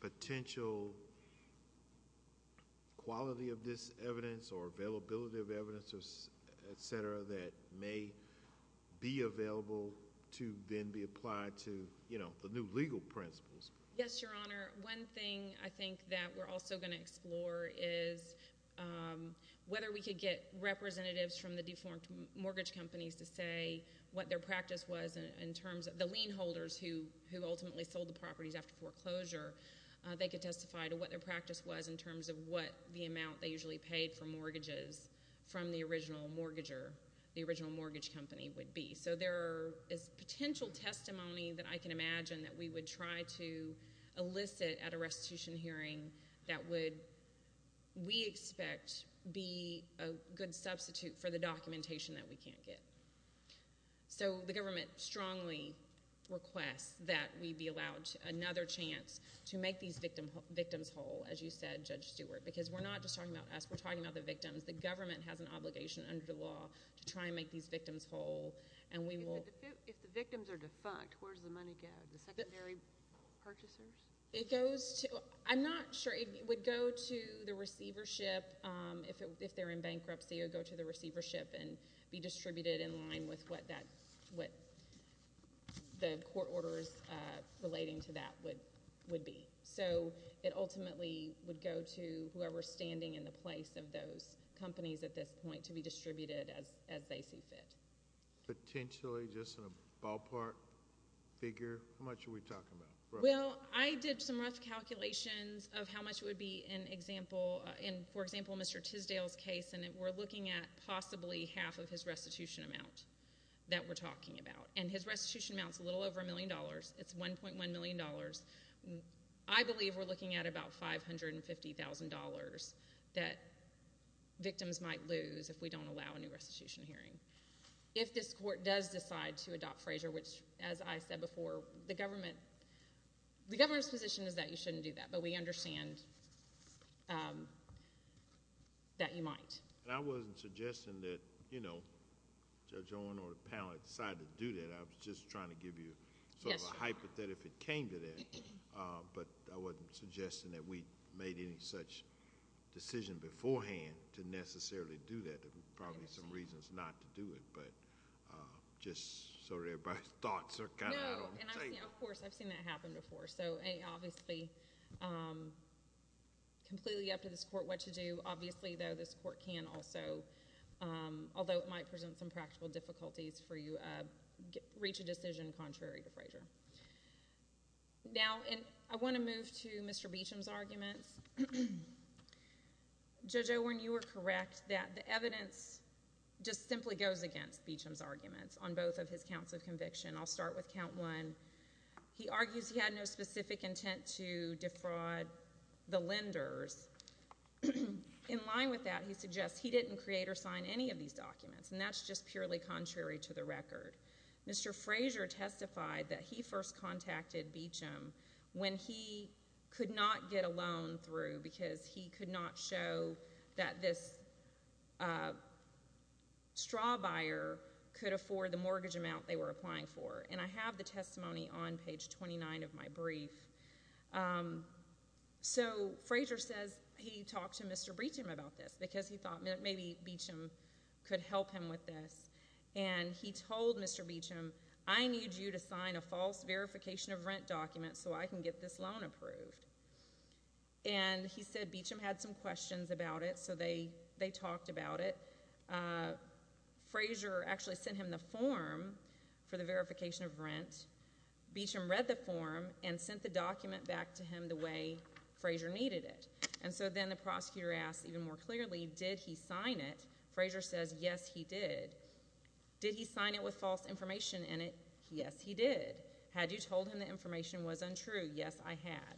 potential quality of this evidence or availability of evidence, etc., that may be available to then be applied to the new legal principles? Yes, Your Honor. One thing I think that we're also going to explore is whether we could get representatives from the defunct mortgage companies to say what their practice was and in terms of the lien holders who ultimately sold the properties after foreclosure, they could testify to what their practice was in terms of what the amount they usually paid for mortgages from the original mortgager, the original mortgage company would be. So, there is potential testimony that I can imagine that we would try to elicit at a restitution hearing that would, we expect, be a good substitute for the documentation that we can't get. So, the government strongly requests that we be allowed another chance to make these victims whole, as you said, Judge Stewart, because we're not just talking about us, we're talking about the victims. The government has an obligation under the law to try and make these victims whole, and we will... If the victims are defunct, where does the money go? The secondary purchasers? It goes to... I'm not sure. It would go to the receivership if they're in bankruptcy. It would go to the receivership and be distributed in line with what the court orders relating to that would be. So, it ultimately would go to whoever is standing in the place of those companies at this point to be distributed as they see fit. Potentially, just in a ballpark figure, how much are we talking about? Well, I did some rough calculations of how much would be an example, and for example, Mr. Tisdale's case, and we're looking at possibly half of his restitution amount that we're talking about. And his restitution amount is a little over a million dollars. It's $1.1 million. I believe we're looking at about $550,000 that victims might lose if we don't allow a new restitution hearing. If this court does decide to adopt Frazier, which, as I said before, the government's position is that you shouldn't do that, but we understand that you might. I wasn't suggesting that Judge Owen or the panel decided to do that. I was just trying to give you a hypothetical if it came to that, but I wasn't suggesting that we made any such decision beforehand to necessarily do that. There are probably some reasons not to do it, but just so everybody's thoughts are kind of out on the table. And, of course, I've seen that happen before. So, A, obviously, completely up to this court what to do. Obviously, though, this court can also, although it might present some practical difficulties for you, reach a decision contrary to Frazier. Now, and I want to move to Mr. Beecham's arguments. Judge Owen, you were correct that the evidence just simply goes against Beecham's arguments on both of his counts of conviction. I'll start with Count 1. He argues he had no specific intent to defraud the lenders. In line with that, he suggests he didn't create or sign any of these documents, and that's just purely contrary to the record. Mr. Frazier testified that he first contacted Beecham when he could not get a loan through because he could not show that this straw buyer could afford the loan. And I have the testimony on page 29 of my brief. So Frazier says he talked to Mr. Beecham about this because he thought maybe Beecham could help him with this. And he told Mr. Beecham, I need you to sign a false verification of rent document so I can get this loan approved. And he said Beecham had some questions about it, so they talked about it. Frazier actually sent him the form for the verification of rent. Beecham read the form and sent the document back to him the way Frazier needed it. And so then the prosecutor asked even more clearly, did he sign it? Frazier says, yes, he did. Did he sign it with false information in it? Yes, he did. Had you told him the information was untrue? Yes, I had.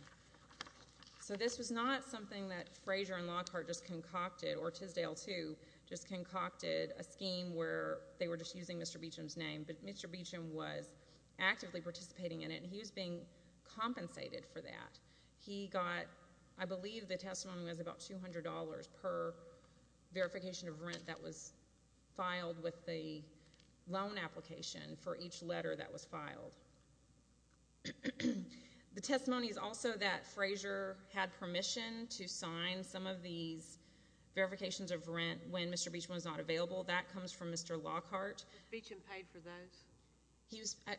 So this was not something that Frazier and Lockhart just concocted, or Tisdale too, just concocted a scheme where they were just using Mr. Beecham's name. But actively participating in it. And he was being compensated for that. He got, I believe the testimony was about $200 per verification of rent that was filed with the loan application for each letter that was filed. The testimony is also that Frazier had permission to sign some of these verifications of rent when Mr. Beecham was not available. That comes from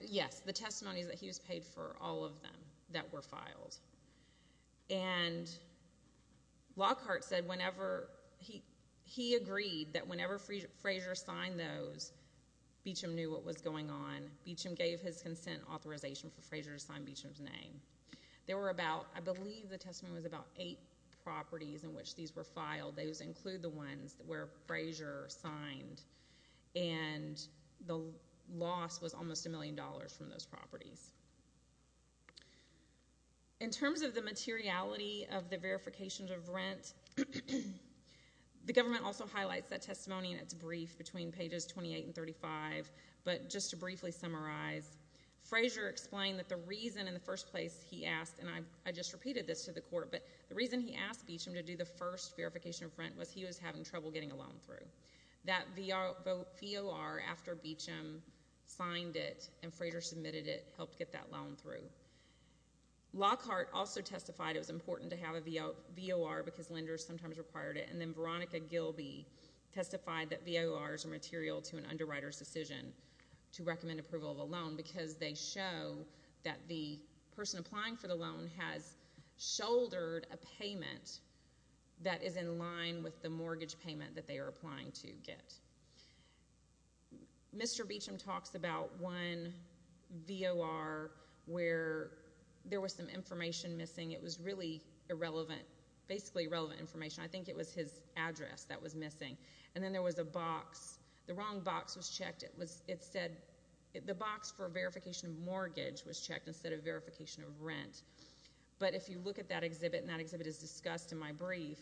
Yes, the testimony is that he was paid for all of them that were filed. And Lockhart said whenever, he agreed that whenever Frazier signed those, Beecham knew what was going on. Beecham gave his consent authorization for Frazier to sign Beecham's name. There were about, I believe the testimony was about eight properties in which these were filed. Those include the ones where Frazier signed. And the loss was almost a million dollars from those properties. In terms of the materiality of the verifications of rent, the government also highlights that testimony in its brief between pages 28 and 35. But just to briefly summarize, Frazier explained that the reason in the first place he asked, and I just repeated this to the person in front, was he was having trouble getting a loan through. That VOR after Beecham signed it and Frazier submitted it helped get that loan through. Lockhart also testified it was important to have a VOR because lenders sometimes required it. And then Veronica Gilby testified that VORs are material to an underwriter's decision to recommend approval of a loan because they show that the person applying for the loan has shouldered a payment that is in line with the mortgage payment that they are applying to get. Mr. Beecham talks about one VOR where there was some information missing. It was really irrelevant, basically irrelevant information. I think it was his address that was missing. And then there was a box. The wrong box was checked. It said the box for verification of mortgage was checked instead of verification of rent. But if you look at that exhibit, and that exhibit is discussed in my brief,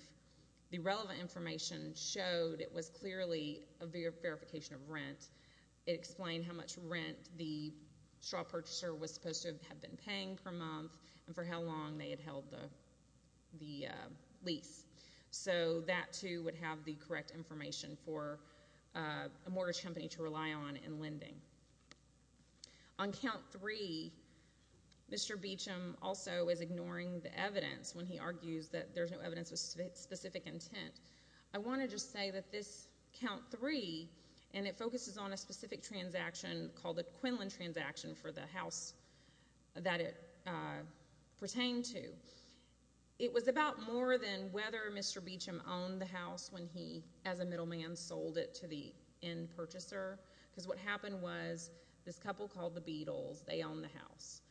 the relevant information showed it was clearly a verification of rent. It explained how much rent the straw purchaser was supposed to have been paying per month and for how long they had held the lease. So that, too, would have the correct information for a mortgage company to rely on in lending. On count three, Mr. Beecham also is ignoring the evidence when he argues that there's no evidence of specific intent. I want to just say that this count three, and it focuses on a specific transaction called the Quinlan transaction for the house that it pertained to, it was about more than whether Mr. Beecham owned the house when he, as a middleman, sold it to the end purchaser. Because what happened was this couple called the Beatles. They owned the house.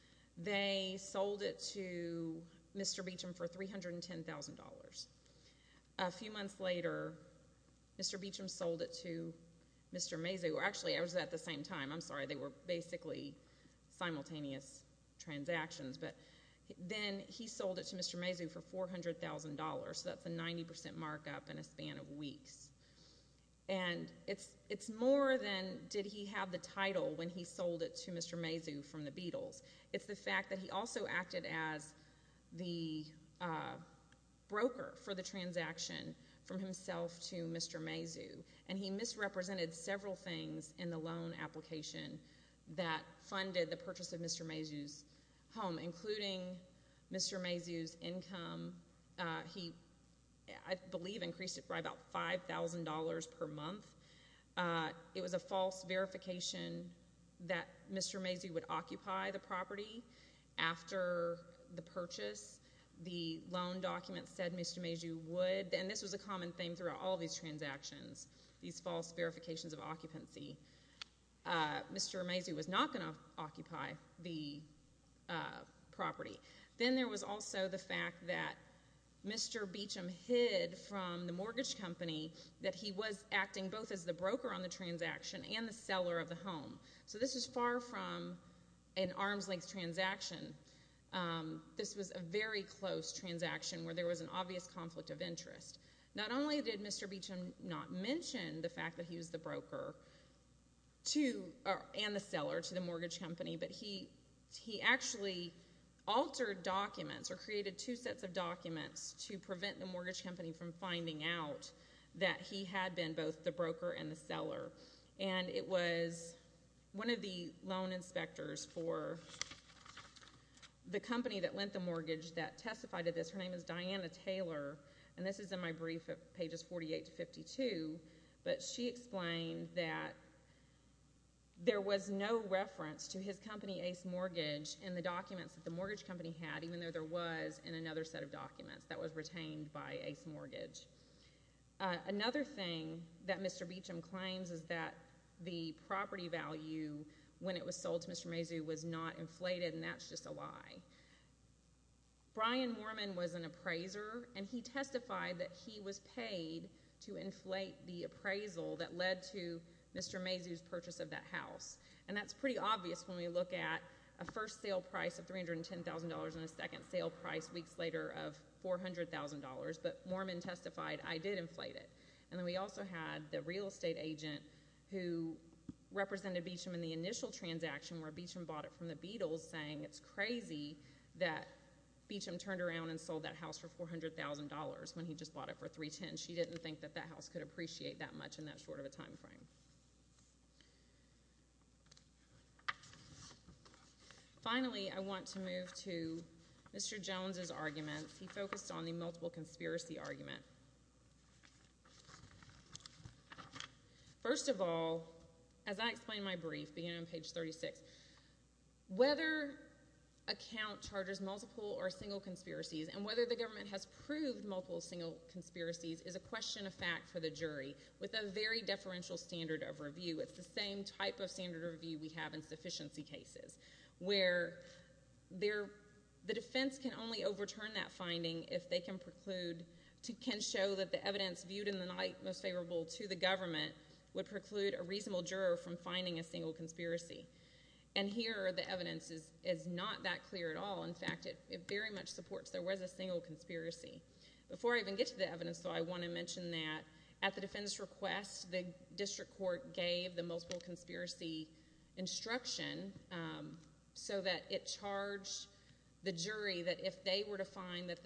They sold it to Mr. Beecham for $310,000. A few months later, Mr. Beecham sold it to Mr. Mazoo. Actually, it was at the same time. I'm sorry. They were basically simultaneous transactions. But then he sold it to Mr. Mazoo for $400,000. So that's a 90% markup in a span of weeks. And it's more than did he have the title when he sold it to Mr. Mazoo from the Beatles. It's the fact that he also acted as the broker for the transaction from himself to Mr. Mazoo. And he misrepresented several things in the loan application that funded the purchase of Mr. Mazoo's home, including Mr. Mazoo's income. He misrepresented several things. I believe increased it by about $5,000 per month. It was a false verification that Mr. Mazoo would occupy the property after the purchase. The loan document said Mr. Mazoo would. And this was a common theme throughout all these transactions, these false verifications of occupancy. Mr. Mazoo was not going to occupy the property. Then there was also the fact that Mr. Beauchamp hid from the mortgage company that he was acting both as the broker on the transaction and the seller of the home. So this was far from an arm's length transaction. This was a very close transaction where there was an obvious conflict of interest. Not only did Mr. Beauchamp not mention the fact that he was the broker and the seller to the mortgage company, but he actually altered documents or created two sets of documents to prevent the mortgage company from finding out that he had been both the broker and the seller. And it was one of the loan inspectors for the company that lent the mortgage that testified of this. Her name is Diana Taylor. And this is in my brief at pages 48 to 52. But she explained that there was no reference to his company Ace Mortgage in the documents that the mortgage company had, even though there was in another set of documents that was retained by Ace Mortgage. Another thing that Mr. Beauchamp claims is that the property value when it was sold to Mr. Mazoo was not inflated, and that's just a lie. Brian Moorman was an appraiser, and he testified that he was paid to inflate the appraisal that led to Mr. Mazoo's purchase of that house. And that's pretty obvious when we look at a first sale price of $310,000 and a second sale price weeks later of $400,000. But Moorman testified, I did inflate it. And then we also had the real estate agent who represented Beauchamp in the initial transaction where Beauchamp bought it from the Beatles, saying it's crazy that Beauchamp turned around and sold that house for $400,000 when he just bought it for $310,000. She didn't think that that house could appreciate that much in that short of a time frame. Finally I want to move to Mr. Jones's arguments. He focused on the multiple conspiracy argument. First of all, as I explained in my brief, beginning on page 36, whether a count charges multiple or single conspiracies, and whether the government has proved multiple single conspiracies, is a question of fact for the jury, with a very deferential standard of review. It's the same type of standard of review we have in sufficiency cases, where the defense can only overturn that finding if they can show that the evidence viewed in the light most favorable to the government would preclude a reasonable juror from finding a single conspiracy. Here, the evidence is not that clear at all. In fact, it very much supports there was a single conspiracy. Before I even get to the evidence, though, I want to mention that at the defendant's request, the district court gave the multiple conspiracy instruction, so that it charged the jury that if they were to find that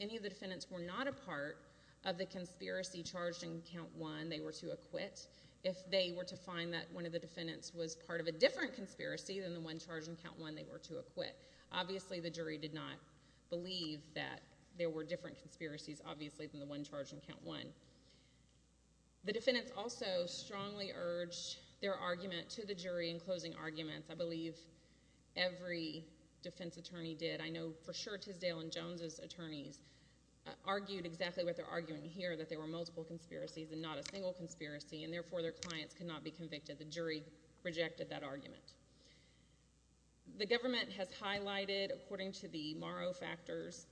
any of the defendants were not a part of the conspiracy charged in Count 1, they were to acquit. If they were to find that one of the defendants was part of a different conspiracy than the one charged in Count 1, they were to acquit. Obviously, the jury did not believe that there were different conspiracies, obviously, than the one charged in Count 1. The defendants also strongly urged their argument to the jury in closing arguments. I believe every defense attorney did. I know for sure Tisdale and Jones's attorneys argued exactly what they're arguing here, that there were multiple conspiracies and not a single conspiracy, and therefore their clients could not be convicted. The jury rejected that argument. The government has highlighted, according to the Morrow factors,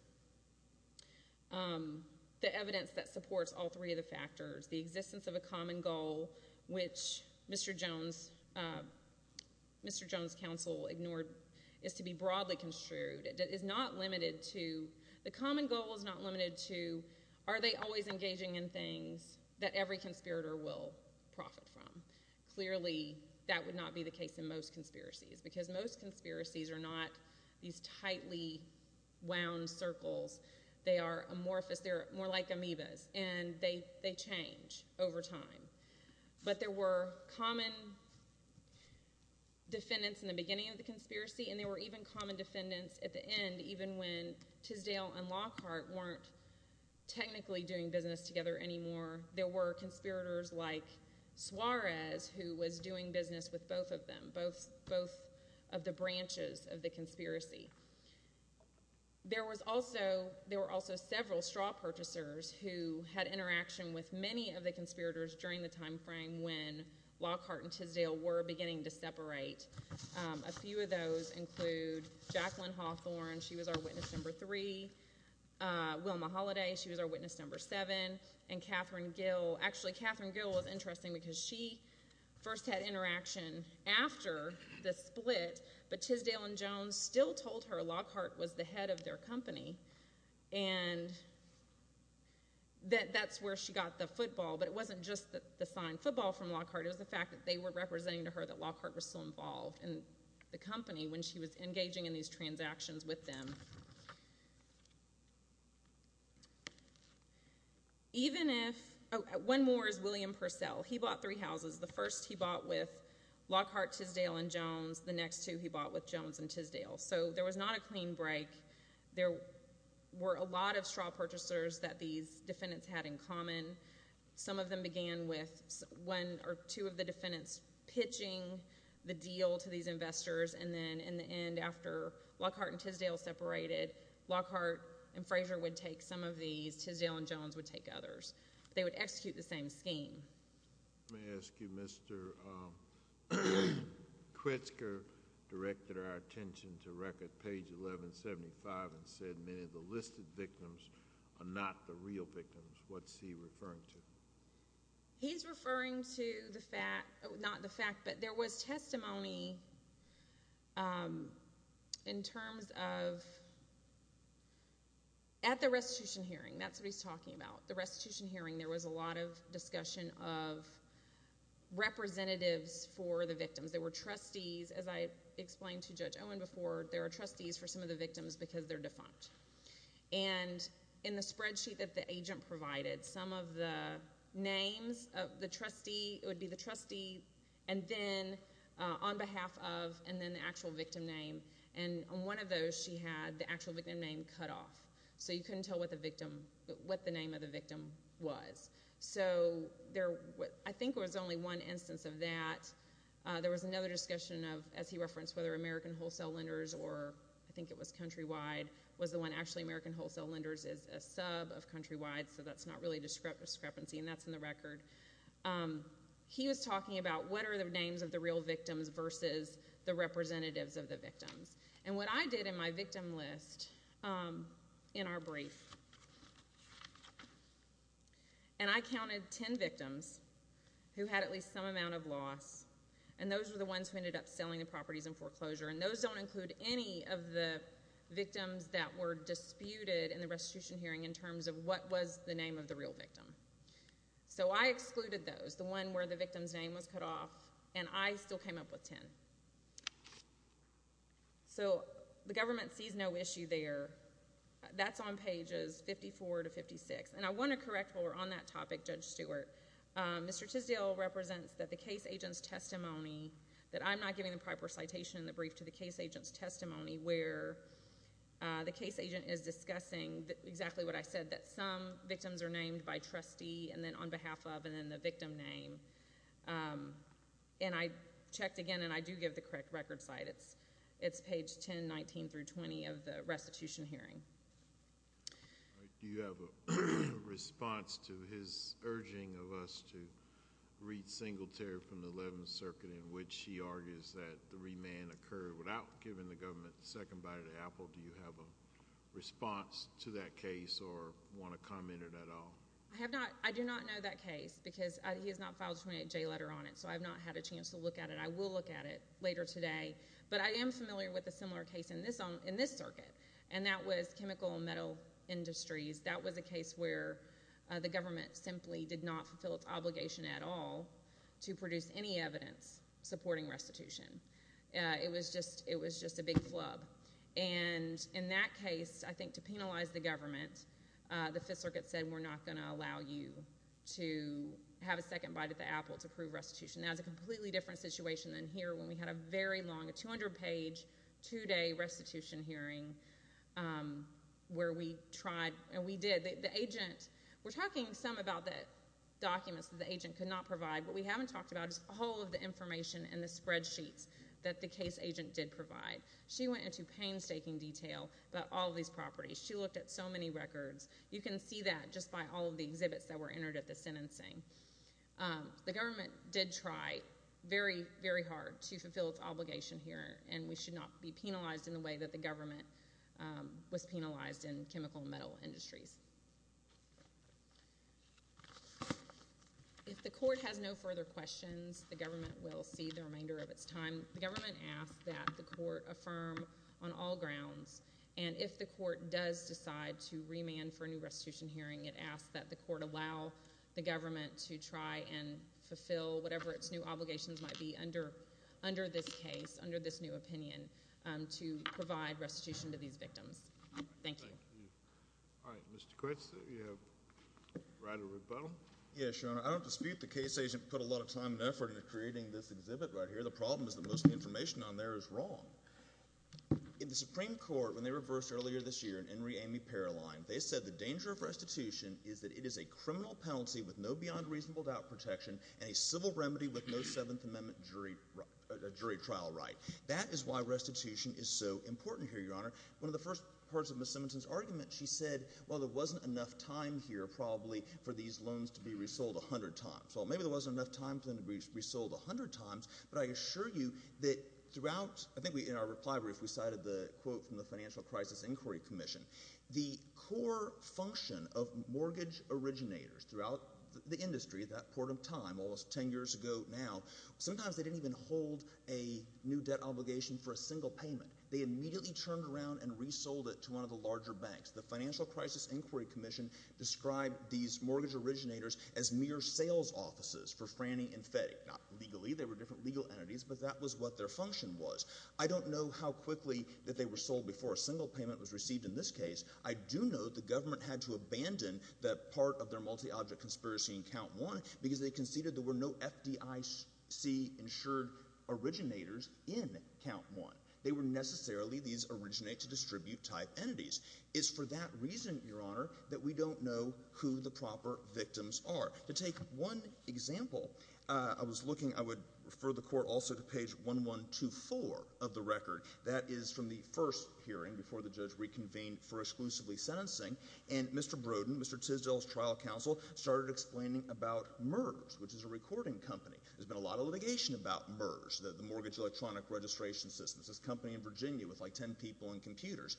the evidence that supports all three of the factors. The existence of a common goal, which Mr. Jones's counsel ignored, is to be broadly construed. It is not limited to—the common goal is not limited to, are they always engaging in things that every conspirator will profit from? Clearly, that would not be the case in most conspiracies, because most conspiracies are not these tightly wound circles. They are amorphous. They're more like amoebas, and they change over time. But there were common defendants in the beginning of the conspiracy, and there were even common defendants at the end, even when Tisdale and Lockhart weren't technically doing business together anymore. There were conspirators like Suarez, who was doing business with both of them, both of the branches of the conspiracy. There were also several straw purchasers who had interaction with many of the conspirators during the time frame when Lockhart and Tisdale were beginning to separate. A few of those include Jacqueline Hawthorne. She was our witness number seven. And Catherine Gill—actually, Catherine Gill was interesting because she first had interaction after the split, but Tisdale and Jones still told her Lockhart was the head of their company, and that that's where she got the football. But it wasn't just the signed football from Lockhart. It was the fact that they were representing to her that Lockhart was still involved in the company when she was engaging in these transactions with them. Even if—one more is William Purcell. He bought three houses. The first he bought with Lockhart, Tisdale, and Jones. The next two he bought with Jones and Tisdale. So there was not a clean break. There were a lot of straw purchasers that these defendants had in common. Some of them began with one or two of the defendants pitching the deal to these investors, and then, in the end, after Lockhart and Tisdale separated, Lockhart and Frazier would take some of these. Tisdale and Jones would take others. They would execute the same scheme. Let me ask you, Mr. Kritzker directed our attention to record page 1175 and said many of the listed victims are not the real victims. What's he referring to? He's referring to the fact—not the fact, but there was testimony in terms of—at the restitution hearing, that's what he's talking about. The restitution hearing, there was a lot of discussion of representatives for the victims. There were trustees. As I explained to Judge Owen before, there are trustees for some of the victims because they're defunct. In the spreadsheet that the agent provided, some of the names of the trustee—it would be the trustee, and then on behalf of, and then the actual victim name. On one of those, she had the actual victim name cut off, so you couldn't tell what the name of the victim was. I think there was only one instance of that. There was another discussion of, as well, and actually American Wholesale Lenders is a sub of Countrywide, so that's not really a discrepancy, and that's in the record. He was talking about what are the names of the real victims versus the representatives of the victims. And what I did in my victim list in our brief, and I counted 10 victims who had at least some amount of loss, and those were the ones who ended up selling the properties in foreclosure, and those don't include any of the victims that were disputed in the restitution hearing in terms of what was the name of the real victim. So I excluded those, the one where the victim's name was cut off, and I still came up with 10. So the government sees no issue there. That's on pages 54 to 56, and I want to correct where we're on that topic, Judge Stewart. Mr. Tisdale represents that the case agent's testimony, that I'm not giving the proper citation in the brief to the case agent's testimony where the case agent is discussing exactly what I said, that some victims are named by trustee, and then on behalf of, and then the victim name. And I checked again, and I do give the correct record site. It's page 10, 19 through 20 of the restitution hearing. Do you have a response to his urging of us to read Singletary from the Eleventh Circuit in which he argues that the remand occurred without giving the government the second bite of the apple? Do you have a response to that case or want to comment at all? I do not know that case because he has not filed a 28-J letter on it, so I have not had a chance to look at it. I will look at it later today, but I am familiar with a similar case in this circuit, and that was Chemical and Metal Industries. That was a case where the government simply did not fulfill its obligation at all to produce any evidence supporting restitution. It was just a big flub. And in that case, I think to penalize the government, the Fifth Circuit said, we're not going to allow you to have a second bite of the apple to prove restitution. That was a completely different situation than here when we had a very long, a 200-page, two-day restitution hearing where we tried, and we were talking some about the documents that the agent could not provide. What we haven't talked about is all of the information and the spreadsheets that the case agent did provide. She went into painstaking detail about all of these properties. She looked at so many records. You can see that just by all of the exhibits that were entered at the sentencing. The government did try very, very hard to fulfill its obligation here, and we should not be penalized in the way that the government was penalized in Chemical and Metal Industries. If the court has no further questions, the government will see the remainder of its time. The government asked that the court affirm on all grounds, and if the court does decide to remand for a new restitution hearing, it asks that the court allow the government to try and fulfill whatever its new obligations might be under this case, under this new opinion, to provide restitution to these victims. Thank you. All right. Mr. Quince, you have a right of rebuttal. Yes, Your Honor. I don't dispute the case agent put a lot of time and effort into creating this exhibit right here. The problem is that most of the information on there is wrong. In the Supreme Court, when they reversed earlier this year in Henry Amy Paroline, they said the danger of restitution is that it is a criminal penalty with no beyond reasonable doubt protection and a civil remedy with no Seventh Amendment jury trial right. That is why restitution is so important here, Your Honor. One of the first parts of Ms. Simonson's argument, she said, well, there wasn't enough time here probably for these loans to be resold a hundred times. Well, maybe there wasn't enough time for them to be resold a hundred times, but I assure you that throughout—I think in our reply brief we cited the quote from the Financial Crisis Inquiry Commission. The core function of mortgage originators throughout the industry at that point in time, almost ten years ago now, sometimes they didn't even hold a new debt obligation for a single payment. They immediately turned around and resold it to one of the larger banks. The Financial Crisis Inquiry Commission described these mortgage originators as mere sales offices for Franny and FedEx. Not legally. They were different legal entities, but that was what their function was. I don't know how quickly that they were sold before a single payment was received in this case. I do know the government had to abandon that part of their multi-object conspiracy in Count 1 because they conceded there were no FDIC-insured originators in Count 1. They were necessarily these originate-to-distribute type entities. It's for that reason, Your Honor, that we don't know who the proper victims are. To take one example, I would refer the Court also to page 1124 of the record. That is from the first hearing before the judge reconvened for exclusively sentencing, and Mr. Brodin, Mr. Tisdale's trial counsel, started explaining about MERS, which is a recording company. There's been a lot of litigation about MERS, the Mortgage Electronic Registration System. It's this company in Virginia with like ten people and computers.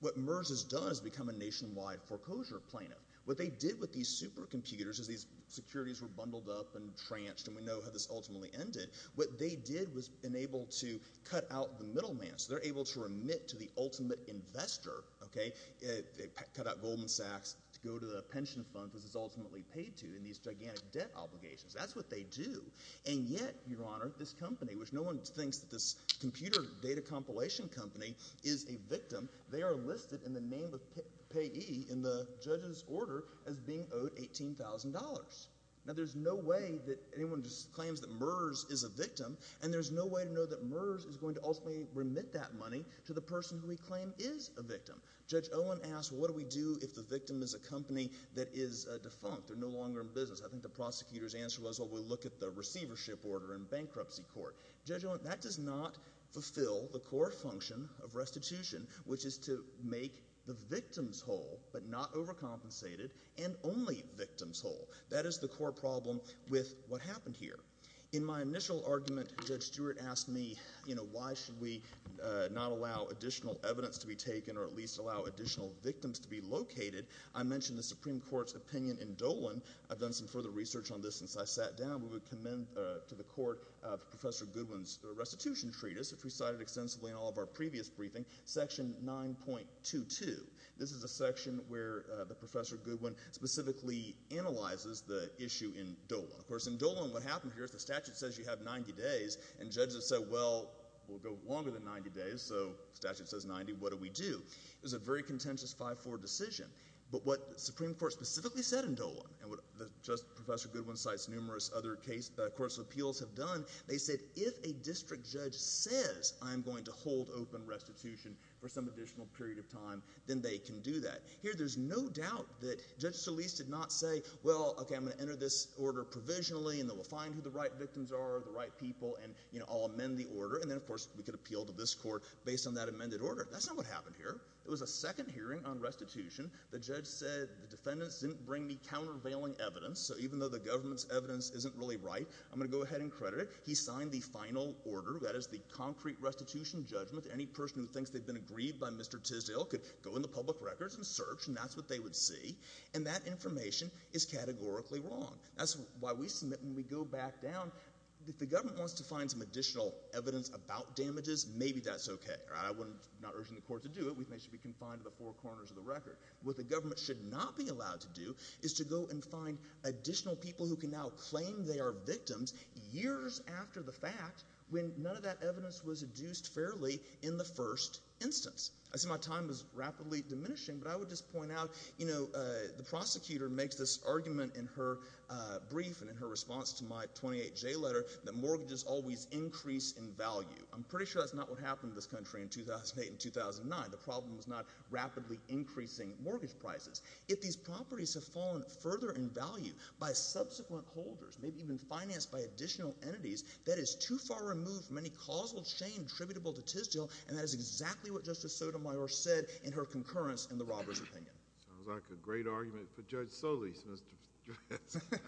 What MERS has done is become a nationwide foreclosure plaintiff. What they did with these supercomputers is these securities were bundled up and tranched, and we know how this ultimately ended. What they did was enable to cut out the middleman. So they're able to remit to the ultimate investor. They cut out Goldman Sachs to go to the pension fund because it's ultimately paid to in these gigantic debt obligations. That's what they do. And yet, Your Honor, this company, which no one thinks that this computer data compilation company is a victim, they are listed in the name of payee in the judge's order as being owed $18,000. Now, there's no way that anyone just claims that MERS is a victim, and there's no way to know that MERS is going to ultimately remit that money to the person who we claim is a victim. Judge Owen asked, what do we do if the victim is a company that is defunct? They're no longer in business. I think the prosecutor's answer was, well, we'll look at the receivership order in bankruptcy court. Judge Owen, that does not fulfill the core function of restitution, which is to make the victims whole but not overcompensated and only victims whole. That is the core problem with what happened here. In my initial argument, Judge Stewart asked me, you know, why should we not allow additional evidence to be taken or at least allow additional victims to be located? I mentioned the Supreme Court's opinion in Dolan. I've done some further research on this since I sat down. We would commend to the court Professor Goodwin's restitution treatise, which we cited extensively in all of our previous briefings, Section 9.22. This is a section where Professor Goodwin specifically analyzes the issue in Dolan. Of course, in Dolan, what happened here is the statute says you have 90 days, and judges said, well, we'll go longer than 90 days, so the statute says 90. What do we do? It was a very contentious 5-4 decision. But what the Supreme Court specifically said in Dolan, and what Professor Goodwin cites numerous other courts of appeals have done, they said if a district judge says I'm going to hold open restitution for some additional period of time, then they can do that. Here there's no doubt that Judge Solis did not say, well, okay, I'm going to enter this order provisionally and then we'll find who the right victims are, the right people, and I'll amend the order, and then, of course, we could appeal to this court based on that amended order. That's not what happened here. It was a second hearing on restitution. The judge said the defendants didn't bring the countervailing evidence, so even though the government's evidence isn't really right, I'm going to go ahead and credit it. He signed the final order, that is the concrete restitution judgment. Any person who thinks they've been agreed by Mr. Tisdale could go in the public records and search, and that's what they would see, and that information is categorically wrong. That's why we submit and we go back down. If the government wants to find some additional evidence about damages, maybe that's okay. I'm not urging the court to do it. They should be confined to the four corners of the record. What the government should not be allowed to do is to go and find additional people who can now claim they are victims years after the fact when none of that evidence was adduced fairly in the first instance. I see my time is rapidly diminishing, but I would just point out, you know, the prosecutor makes this argument in her brief and in her response to my 28J letter that mortgages always increase in value. I'm pretty sure that's not what happened in this country in 2008 and 2009. The problem was not rapidly increasing mortgage prices. If these properties have fallen further in value by subsequent holders, maybe even financed by additional entities, that is too far removed from any causal chain attributable to Tisdale, and that is exactly what Justice Sotomayor said in her concurrence in the robber's opinion. Sounds like a great argument for Judge Solis, Mr. Stratz.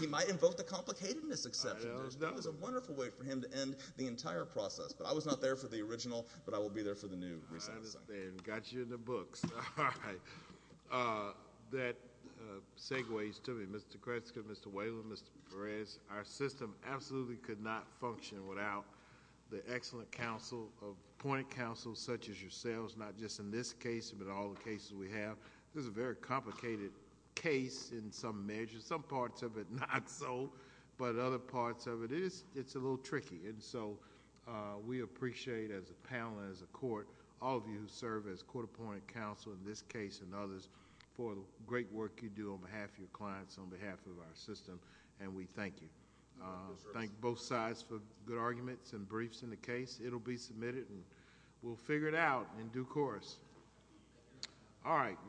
He might invoke the complicatedness exception. That was a wonderful way for him to end the entire process, but I was not there for the original, but I will be there for the new. Got you in the books. All right. That segues to me, Mr. Kresge, Mr. Whalen, Mr. Perez, our system absolutely could not function without the excellent point counsel such as yourselves, not just in this case but in all the cases we have. This is a very complicated case in some measures. In some parts of it, not so, but in other parts of it, it's a little tricky. We appreciate as a panel and as a court all of you who serve as court appointed counsel in this case and others for the great work you do on behalf of your clients, on behalf of our system, and we thank you. Thank both sides for good arguments and briefs in the case. It will be submitted and we'll figure it out in due course. All right.